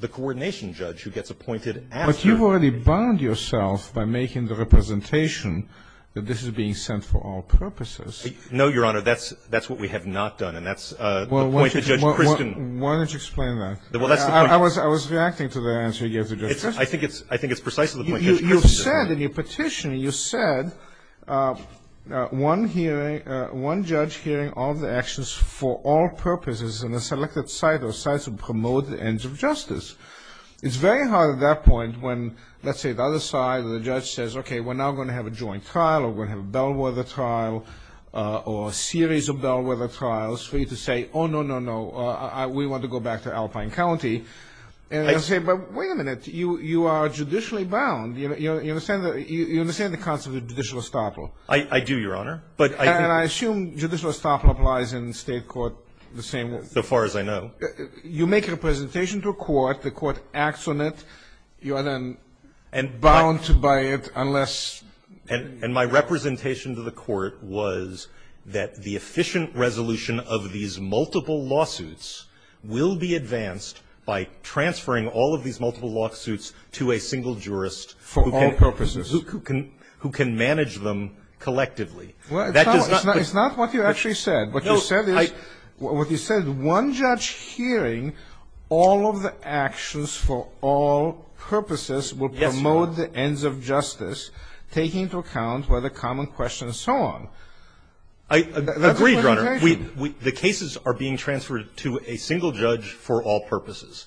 the coordination judge who gets appointed after. But you've already bound yourself by making the representation that this is being sent for all purposes. No, Your Honor. That's, that's what we have not done, and that's the point that Judge Kristin. Why don't you explain that? Well, that's the point. I was, I was reacting to the answer you gave to Judge Kristin. I think it's, I think it's precisely the point. You said in your petition, you said one hearing, one judge hearing all the actions for all purposes in a selected site or sites that promote the ends of justice. It's very hard at that point when, let's say, the other side of the judge says, okay, we're now going to have a joint trial, or we're going to have a bellwether trial, or a series of bellwether trials for you to say, oh, no, no, no, I, we want to go back to Alpine County, and they'll say, but wait a minute, you, you are judicially bound. You, you understand, you understand the concept of judicial estoppel? I, I do, Your Honor. But I, I, And I assume judicial estoppel applies in state court the same way. So far as I know. You make a presentation to a court, the court acts on it, you are then. And bound to buy it unless. And, and my representation to the court was that the efficient resolution of these multiple lawsuits will be advanced by transferring all of these multiple lawsuits to a single jurist. For all purposes. Who, who can, who can manage them collectively. It's not, it's not what you actually said. What you said is, what you said, one judge hearing all of the actions for all purposes. Yes, Your Honor. Will promote the ends of justice, taking into account whether common questions, so on. I, I agree, Your Honor. We, we, the cases are being transferred to a single judge for all purposes.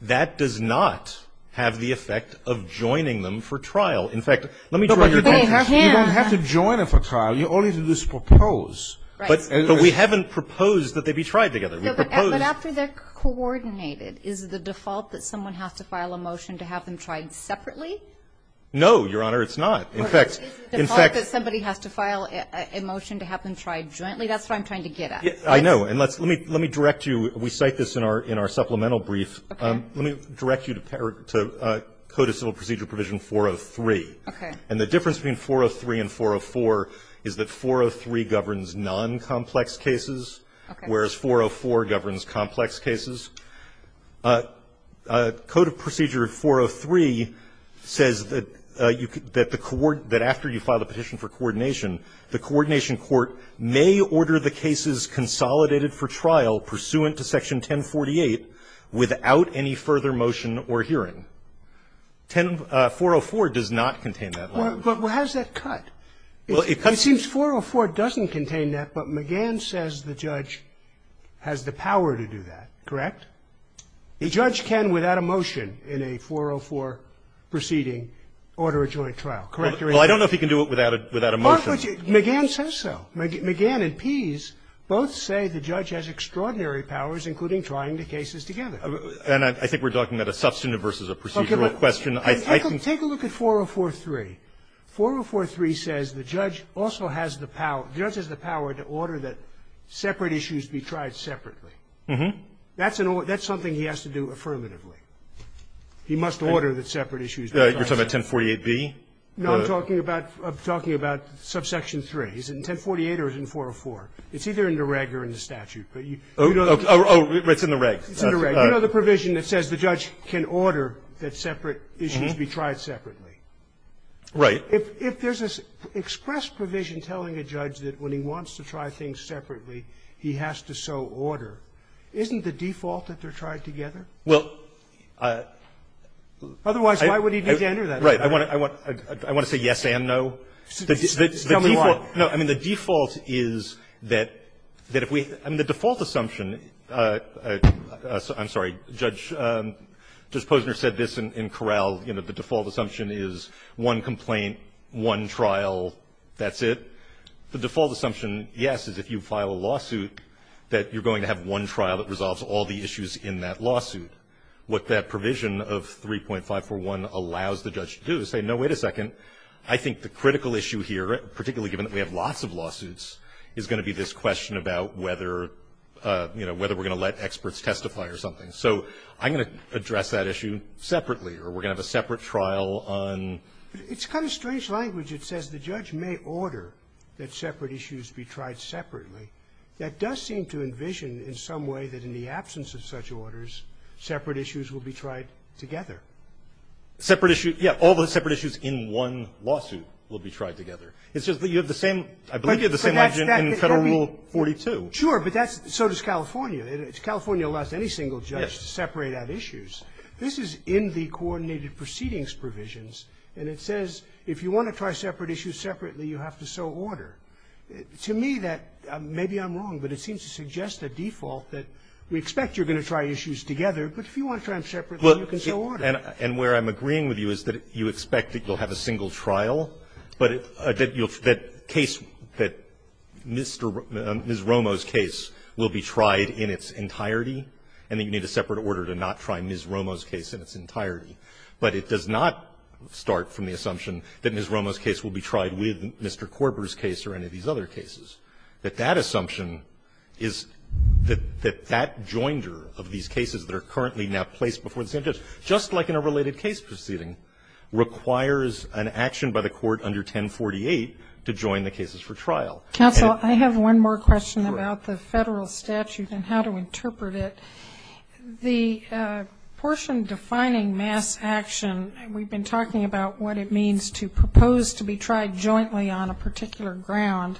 That does not have the effect of joining them for trial. In fact, let me draw your attention. You don't have to join them for trial. You only do this to propose, but we haven't proposed that they be tried together. We propose. But after they're coordinated, is the default that someone has to file a motion to have them tried separately? No, Your Honor, it's not. In fact, in fact. Is the default that somebody has to file a motion to have them tried jointly? That's what I'm trying to get at. I know. And let's, let me, let me direct you. We cite this in our, in our supplemental brief. Okay. Let me direct you to, to Code of Civil Procedure Provision 403. Okay. And the difference between 403 and 404 is that 403 governs non-complex cases. Okay. Whereas 404 governs complex cases. Code of Procedure 403 says that you, that the court, that after you file a petition for coordination, the coordination court may order the cases consolidated for trial pursuant to section 1048 without any further motion or hearing. 10, 404 does not contain that law. Well, but how does that cut? Well, it cuts. It seems 404 doesn't contain that, but McGann says the judge has the power to do that. Correct? The judge can, without a motion, in a 404 proceeding, order a joint trial. Correct or incorrect? Well, I don't know if he can do it without a, without a motion. McGann says so. McGann and Pease both say the judge has extraordinary powers, including trying the cases together. And I think we're talking about a substantive versus a procedural question. I think the 403, 403 says the judge also has the power, the judge has the power to order that separate issues be tried separately. That's an order, that's something he has to do affirmatively. He must order that separate issues be tried separately. You're talking about 1048B? No, I'm talking about, I'm talking about subsection 3. Is it in 1048 or is it in 404? It's either in the reg or in the statute, but you don't know. Oh, it's in the reg. It's in the reg. You know the provision that says the judge can order that separate issues be tried separately. Right. If there's an express provision telling a judge that when he wants to try things separately, he has to so order, isn't the default that they're tried together? Well, I don't know. Otherwise, why would he need to enter that? Right. I want to say yes and no. Tell me why. I mean, the default is that if we, I mean, the default assumption, I'm sorry, Judge Posner said this in Corral, the default assumption is one complaint, one trial, that's it. The default assumption, yes, is if you file a lawsuit, that you're going to have one trial that resolves all the issues in that lawsuit. What that provision of 3.541 allows the judge to do is say, no, wait a second. I think the critical issue here, particularly given that we have lots of lawsuits, is going to be this question about whether we're going to let experts testify or something, so I'm going to address that issue separately, or we're going to have a separate trial on. It's kind of strange language. It says the judge may order that separate issues be tried separately. That does seem to envision in some way that in the absence of such orders, separate issues will be tried together. Separate issue, yeah, all the separate issues in one lawsuit will be tried together. It's just that you have the same, I believe you have the same logic in Federal Rule 42. Sure, but that's, so does California. California allows any single judge to separate out issues. This is in the coordinated proceedings provisions, and it says if you want to try separate issues separately, you have to so order. To me, that, maybe I'm wrong, but it seems to suggest a default that we expect you're going to try issues together, but if you want to try them separately, you can so order. And where I'm agreeing with you is that you expect that you'll have a single trial, but that case, that Ms. Romo's case will be tried in its entirety, and that you need a separate order to not try Ms. Romo's case in its entirety, but it does not start from the assumption that Ms. Romo's case will be tried with Mr. Korber's case or any of these other cases, that that assumption is that that joinder of these cases that are currently now placed before the same judge, just like in a related case proceeding, requires an action by the court under 1048 to join the cases for trial. Counsel, I have one more question about the Federal statute and how to interpret it. The portion defining mass action, we've been talking about what it means to propose to be tried jointly on a particular ground,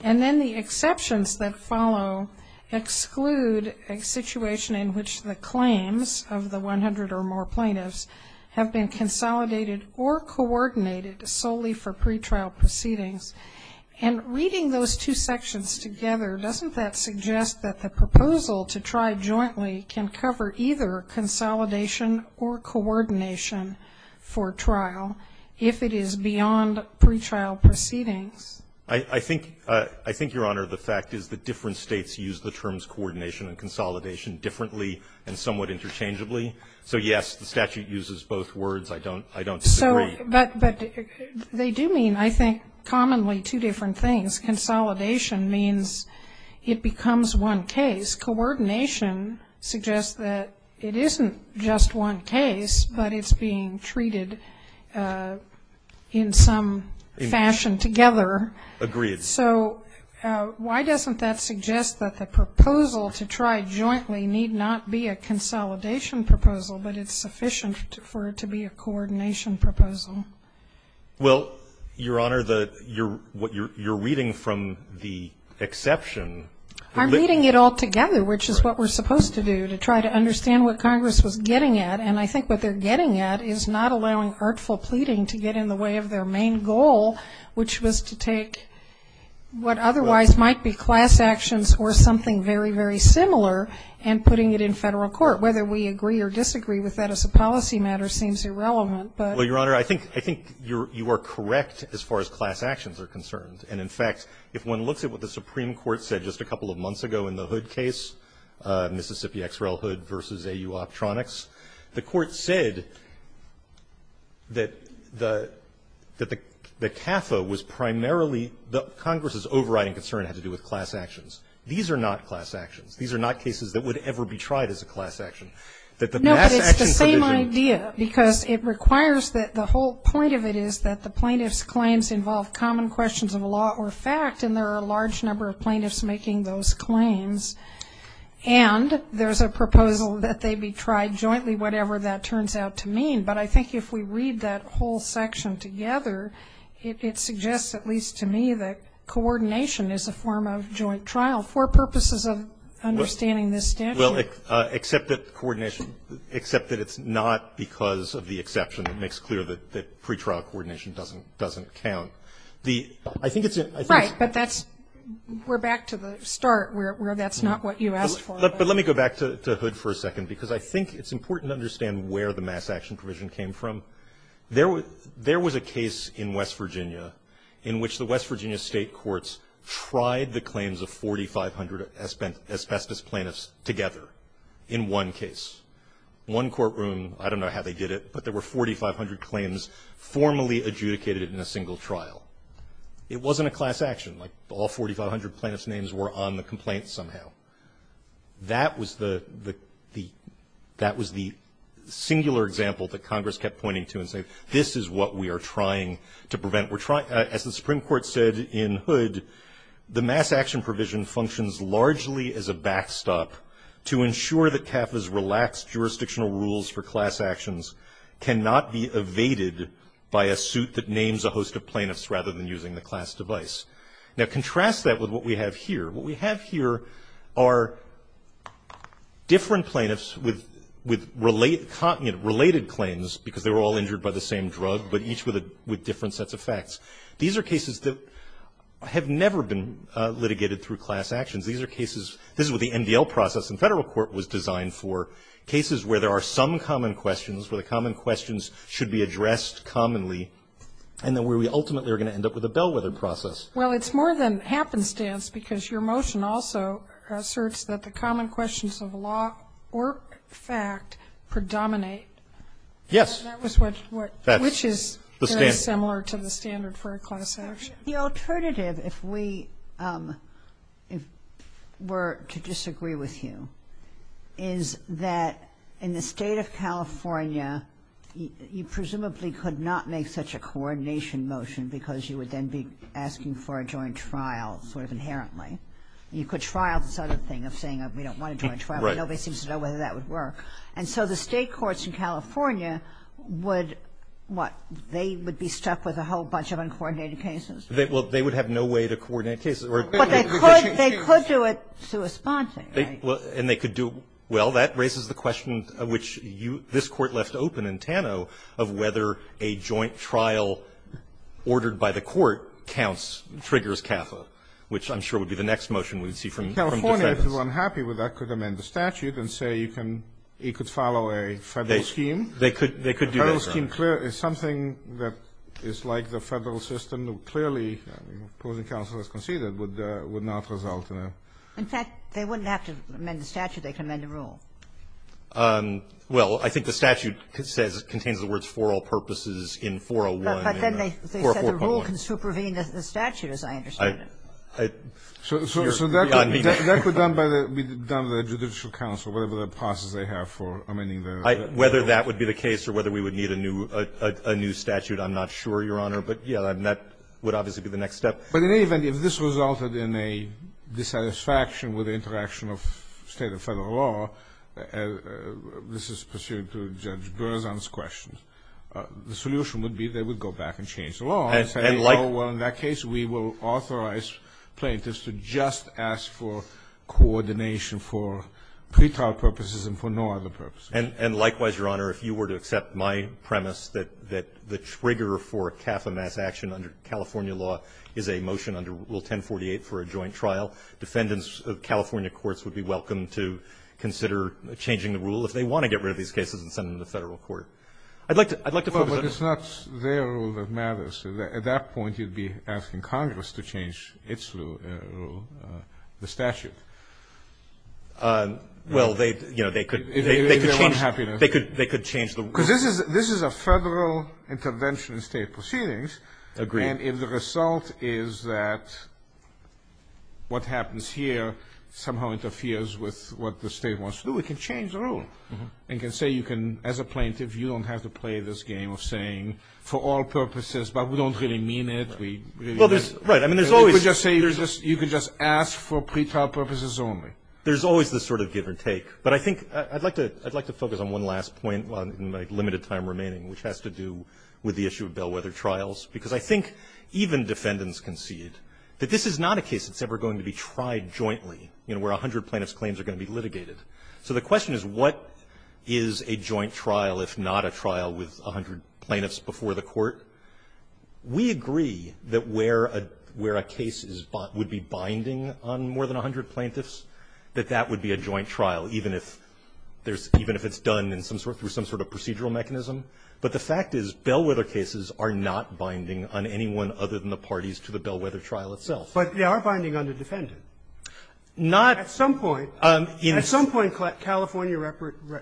and then the exceptions that follow exclude a situation in which the claims of the 100 or more plaintiffs have been consolidated or coordinated solely for pretrial proceedings. And reading those two sections together, doesn't that suggest that the proposal to try jointly can cover either consolidation or coordination for trial if it is beyond pretrial proceedings? I think, Your Honor, the fact is that different States use the terms coordination and consolidation differently and somewhat interchangeably. So, yes, the statute uses both words. I don't agree. But they do mean, I think, commonly two different things. Consolidation means it becomes one case. Coordination suggests that it isn't just one case, but it's being treated in some fashion together. Agreed. So why doesn't that suggest that the proposal to try jointly need not be a consolidation proposal, but it's sufficient for it to be a coordination proposal? Well, Your Honor, the you're reading from the exception. I'm reading it all together, which is what we're supposed to do, to try to understand what Congress was getting at. And I think what they're getting at is not allowing artful pleading to get in the way of their main goal, which was to take what otherwise might be class actions or something very, very similar, and putting it in Federal court. Whether we agree or disagree with that as a policy matter seems irrelevant. Well, Your Honor, I think you are correct as far as class actions are concerned. And, in fact, if one looks at what the Supreme Court said just a couple of months ago in the Hood case, Mississippi-Xrel-Hood v. AU Optronics, the Court said that the CAFA was primarily the Congress's overriding concern had to do with class actions. These are not class actions. These are not cases that would ever be tried as a class action. That the class action provision. No, but it's the same idea, because it requires that the whole point of it is that the plaintiff's claims involve common questions of law or fact, and there are a large number of plaintiffs making those claims. And there's a proposal that they be tried jointly, whatever that turns out to mean. But I think if we read that whole section together, it suggests, at least to me, that coordination is a form of joint trial for purposes of understanding this statute. Well, except that coordination, except that it's not because of the exception that makes clear that pretrial coordination doesn't count. I think it's a. Right. But that's, we're back to the start where that's not what you asked for. But let me go back to Hood for a second, because I think it's important to understand where the mass action provision came from. There was a case in West Virginia in which the West Virginia state courts tried the claims of 4,500 asbestos plaintiffs together in one case. One courtroom, I don't know how they did it, but there were 4,500 claims formally adjudicated in a single trial. It wasn't a class action. Like, all 4,500 plaintiffs' names were on the complaint somehow. That was the singular example that Congress kept pointing to and saying, this is what we are trying to prevent. As the Supreme Court said in Hood, the mass action provision functions largely as a backstop to ensure that CAFA's relaxed jurisdictional rules for class actions cannot be evaded by a suit that names a host of plaintiffs rather than using the class device. Now, contrast that with what we have here. What we have here are different plaintiffs with related claims, because they were all injured by the same drug, but each with different sets of facts. These are cases that have never been litigated through class actions. These are cases, this is what the MDL process in federal court was designed for, cases where there are some common questions, where the common questions should be addressed commonly, and then where we ultimately are going to end up with a bellwether process. Well, it's more than happenstance, because your motion also asserts that the common questions of law or fact predominate. Yes. Which is very similar to the standard for a class action. The alternative, if we were to disagree with you, is that in the State of California, you presumably could not make such a coordination motion because you would then be asking for a joint trial sort of inherently. You could trial this other thing of saying we don't want a joint trial, but nobody seems to know whether that would work. And so the State courts in California would, what, they would be stuck with a whole bunch of uncoordinated cases? They would have no way to coordinate cases. But they could do it through a sponsor. And they could do it. Well, that raises the question which this Court left open in Tano of whether a joint trial ordered by the court counts, triggers CAFA, which I'm sure would be the next motion we'd see from Defendants. In California, if you're unhappy with that, could amend the statute and say you can you could follow a Federal scheme. They could do that. A Federal scheme is something that is like the Federal system. Clearly, opposing counsel has conceded, would not result in a. In fact, they wouldn't have to amend the statute. They could amend the rule. Well, I think the statute says, contains the words for all purposes in 401 and 4.1. But then they said the rule can supervene the statute, as I understand it. So that could be done by the judicial counsel, whatever the process they have for amending the rule. Whether that would be the case or whether we would need a new statute, I'm not sure, Your Honor. But, yes, that would obviously be the next step. But in any event, if this resulted in a dissatisfaction with the interaction of State and Federal law, this is pursuant to Judge Berzon's questions, the solution would be they would go back and change the law and say, oh, well, in that case we will authorize plaintiffs to just ask for coordination for pretrial purposes and for no other purposes. And likewise, Your Honor, if you were to accept my premise that the trigger for CAFA mass action under California law is a motion under Rule 1048 for a joint trial, defendants of California courts would be welcome to consider changing the rule if they want to get rid of these cases and send them to Federal court. I'd like to focus on the other one. Kennedy. Well, but it's not their rule that matters. At that point, you'd be asking Congress to change its rule, the statute. Well, they, you know, they could change the rule. Because this is a Federal intervention in State proceedings. Agreed. And if the result is that what happens here somehow interferes with what the State wants to do, it can change the rule. It can say you can, as a plaintiff, you don't have to play this game of saying for all purposes, but we don't really mean it. We really don't. I mean, there's always this. You could just say you could just ask for pretrial purposes only. There's always this sort of give or take. But I think I'd like to focus on one last point in my limited time remaining, which has to do with the issue of bellwether trials. Because I think even defendants concede that this is not a case that's ever going to be tried jointly, you know, where 100 plaintiffs' claims are going to be litigated. So the question is, what is a joint trial if not a trial with 100 plaintiffs before the Court? We agree that where a case is bought would be binding on more than 100 plaintiffs, that that would be a joint trial, even if there's – even if it's done in some sort of procedural mechanism. But the fact is bellwether cases are not binding on anyone other than the parties to the bellwether trial itself. But they are binding on the defendant. Not at some point. At some point, California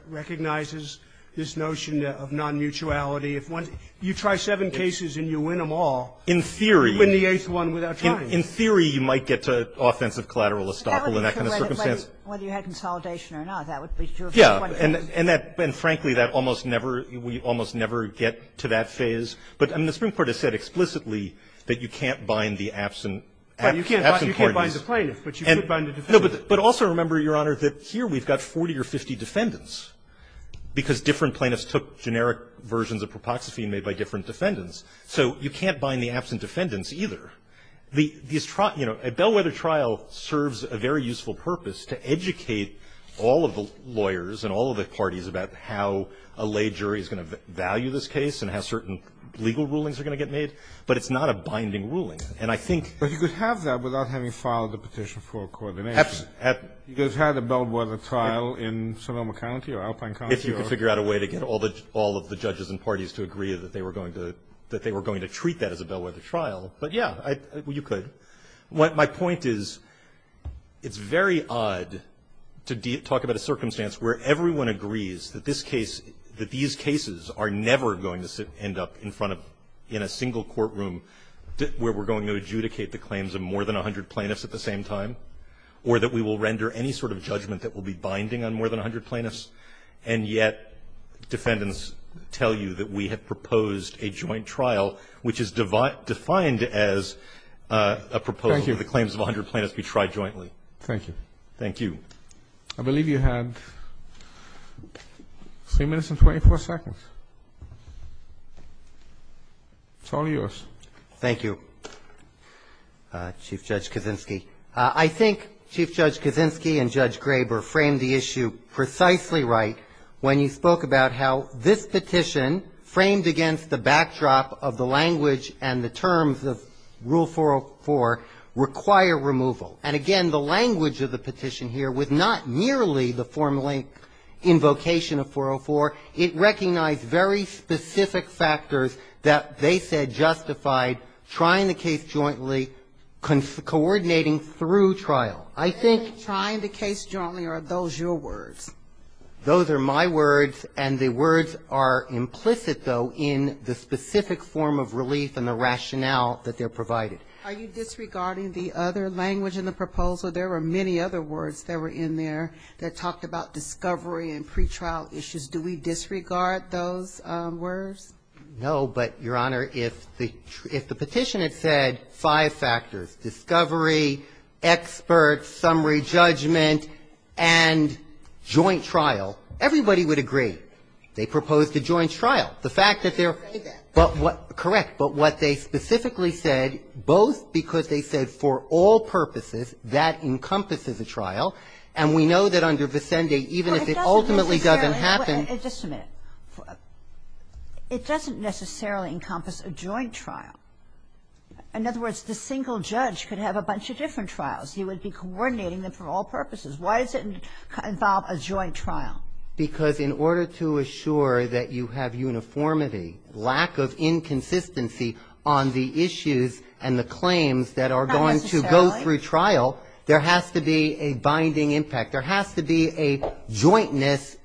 recognizes this notion of non-mutuality. If one – you try seven cases and you win them all, you win the eighth one without trying. In theory, you might get to offensive collateral estoppel in that kind of circumstance. But that would be for whether you had consolidation or not. That would be two of the same. And that – and frankly, that almost never – we almost never get to that phase. But, I mean, the Supreme Court has said explicitly that you can't bind the absent parties. But you can't bind the plaintiff, but you could bind the defendant. No, but also remember, Your Honor, that here we've got 40 or 50 defendants, because different plaintiffs took generic versions of propoxy made by different defendants. So you can't bind the absent defendants either. The – these – you know, a bellwether trial serves a very useful purpose to educate all of the lawyers and all of the parties about how a lay jury is going to value this case and how certain legal rulings are going to get made. But it's not a binding ruling. And I think – But you could have that without having filed a petition for coordination. Absolutely. You could have had a bellwether trial in Sonoma County or Alpine County or – If you could figure out a way to get all the – all of the judges and parties to agree that they were going to – that they were going to treat that as a bellwether trial. But, yeah, I – you could. My point is it's very odd to talk about a circumstance where everyone agrees that this case – that these cases are never going to end up in front of – in a single courtroom where we're going to adjudicate the claims of more than 100 plaintiffs at the same time, or that we will render any sort of judgment that will be binding on more than 100 plaintiffs, and yet defendants tell you that we have proposed a joint trial, which is defined as a proposal that the claims of 100 plaintiffs be tried jointly. Thank you. Thank you. I believe you had 3 minutes and 24 seconds. It's all yours. Thank you, Chief Judge Kaczynski. I think Chief Judge Kaczynski and Judge Graber framed the issue precisely right when you spoke about how this petition, framed against the backdrop of the language and the terms of Rule 404, require removal. And, again, the language of the petition here was not merely the formal invocation of 404. It recognized very specific factors that they said justified trying the case jointly, coordinating through trial. I think – Trying the case jointly, are those your words? Those are my words, and the words are implicit, though, in the specific form of relief and the rationale that they're provided. Are you disregarding the other language in the proposal? There were many other words that were in there that talked about discovery and pretrial issues. Do we disregard those words? No, but, Your Honor, if the petition had said five factors – discovery, experts, summary judgment, and joint trial, everybody would agree. They proposed a joint trial. The fact that they're – They say that. But what – correct. But what they specifically said, both because they said for all purposes, that encompasses a trial, and we know that under Vicende, even if it ultimately doesn't happen – Well, it doesn't necessarily – just a minute. It doesn't necessarily encompass a joint trial. In other words, the single judge could have a bunch of different trials. He would be coordinating them for all purposes. Why does it involve a joint trial? Because in order to assure that you have uniformity, lack of inconsistency on the issues and the claims that are going to go through trial, there has to be a binding impact. There has to be a jointness.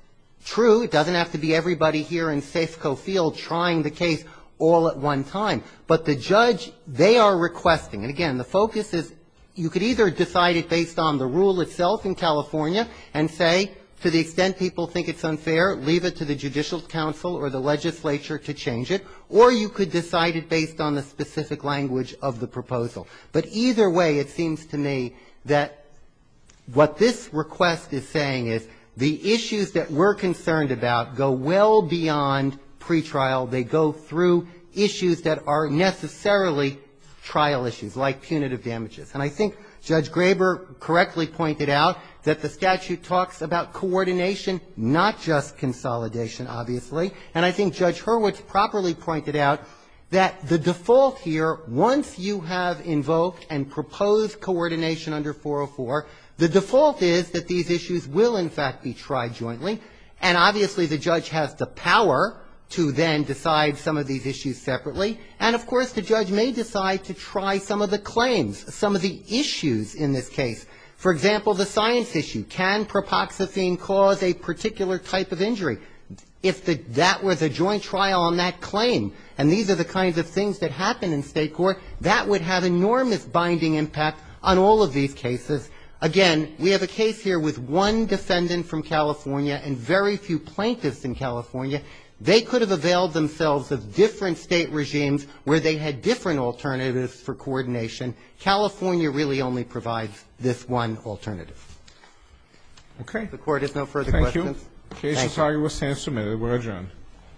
True, it doesn't have to be everybody here in Sase-Cofield trying the case all at one time. But the judge, they are requesting – and, again, the focus is – you could either decide it based on the rule itself in California and say, to the extent people think it's unfair, leave it to the Judicial Council or the legislature to change it, or you could decide it based on the specific language of the proposal. But either way, it seems to me that what this request is saying is the issues that we're concerned about go well beyond pretrial. They go through issues that are necessarily trial issues, like punitive damages. And I think Judge Graber correctly pointed out that the statute talks about coordination, not just consolidation, obviously. And I think Judge Hurwitz properly pointed out that the default here, once you have invoked and proposed coordination under 404, the default is that these issues will, in fact, be tried jointly. And obviously, the judge has the power to then decide some of these issues separately. And of course, the judge may decide to try some of the claims, some of the issues in this case. For example, the science issue. Can propoxyphene cause a particular type of injury? If that was a joint trial on that claim, and these are the kinds of things that happen in state court, that would have enormous binding impact on all of these cases. Again, we have a case here with one defendant from California and very few plaintiffs in California. They could have availed themselves of different state regimes where they had different alternatives for coordination. California really only provides this one alternative. Okay. The Court has no further questions. Thank you. Thank you. The case has now been submitted.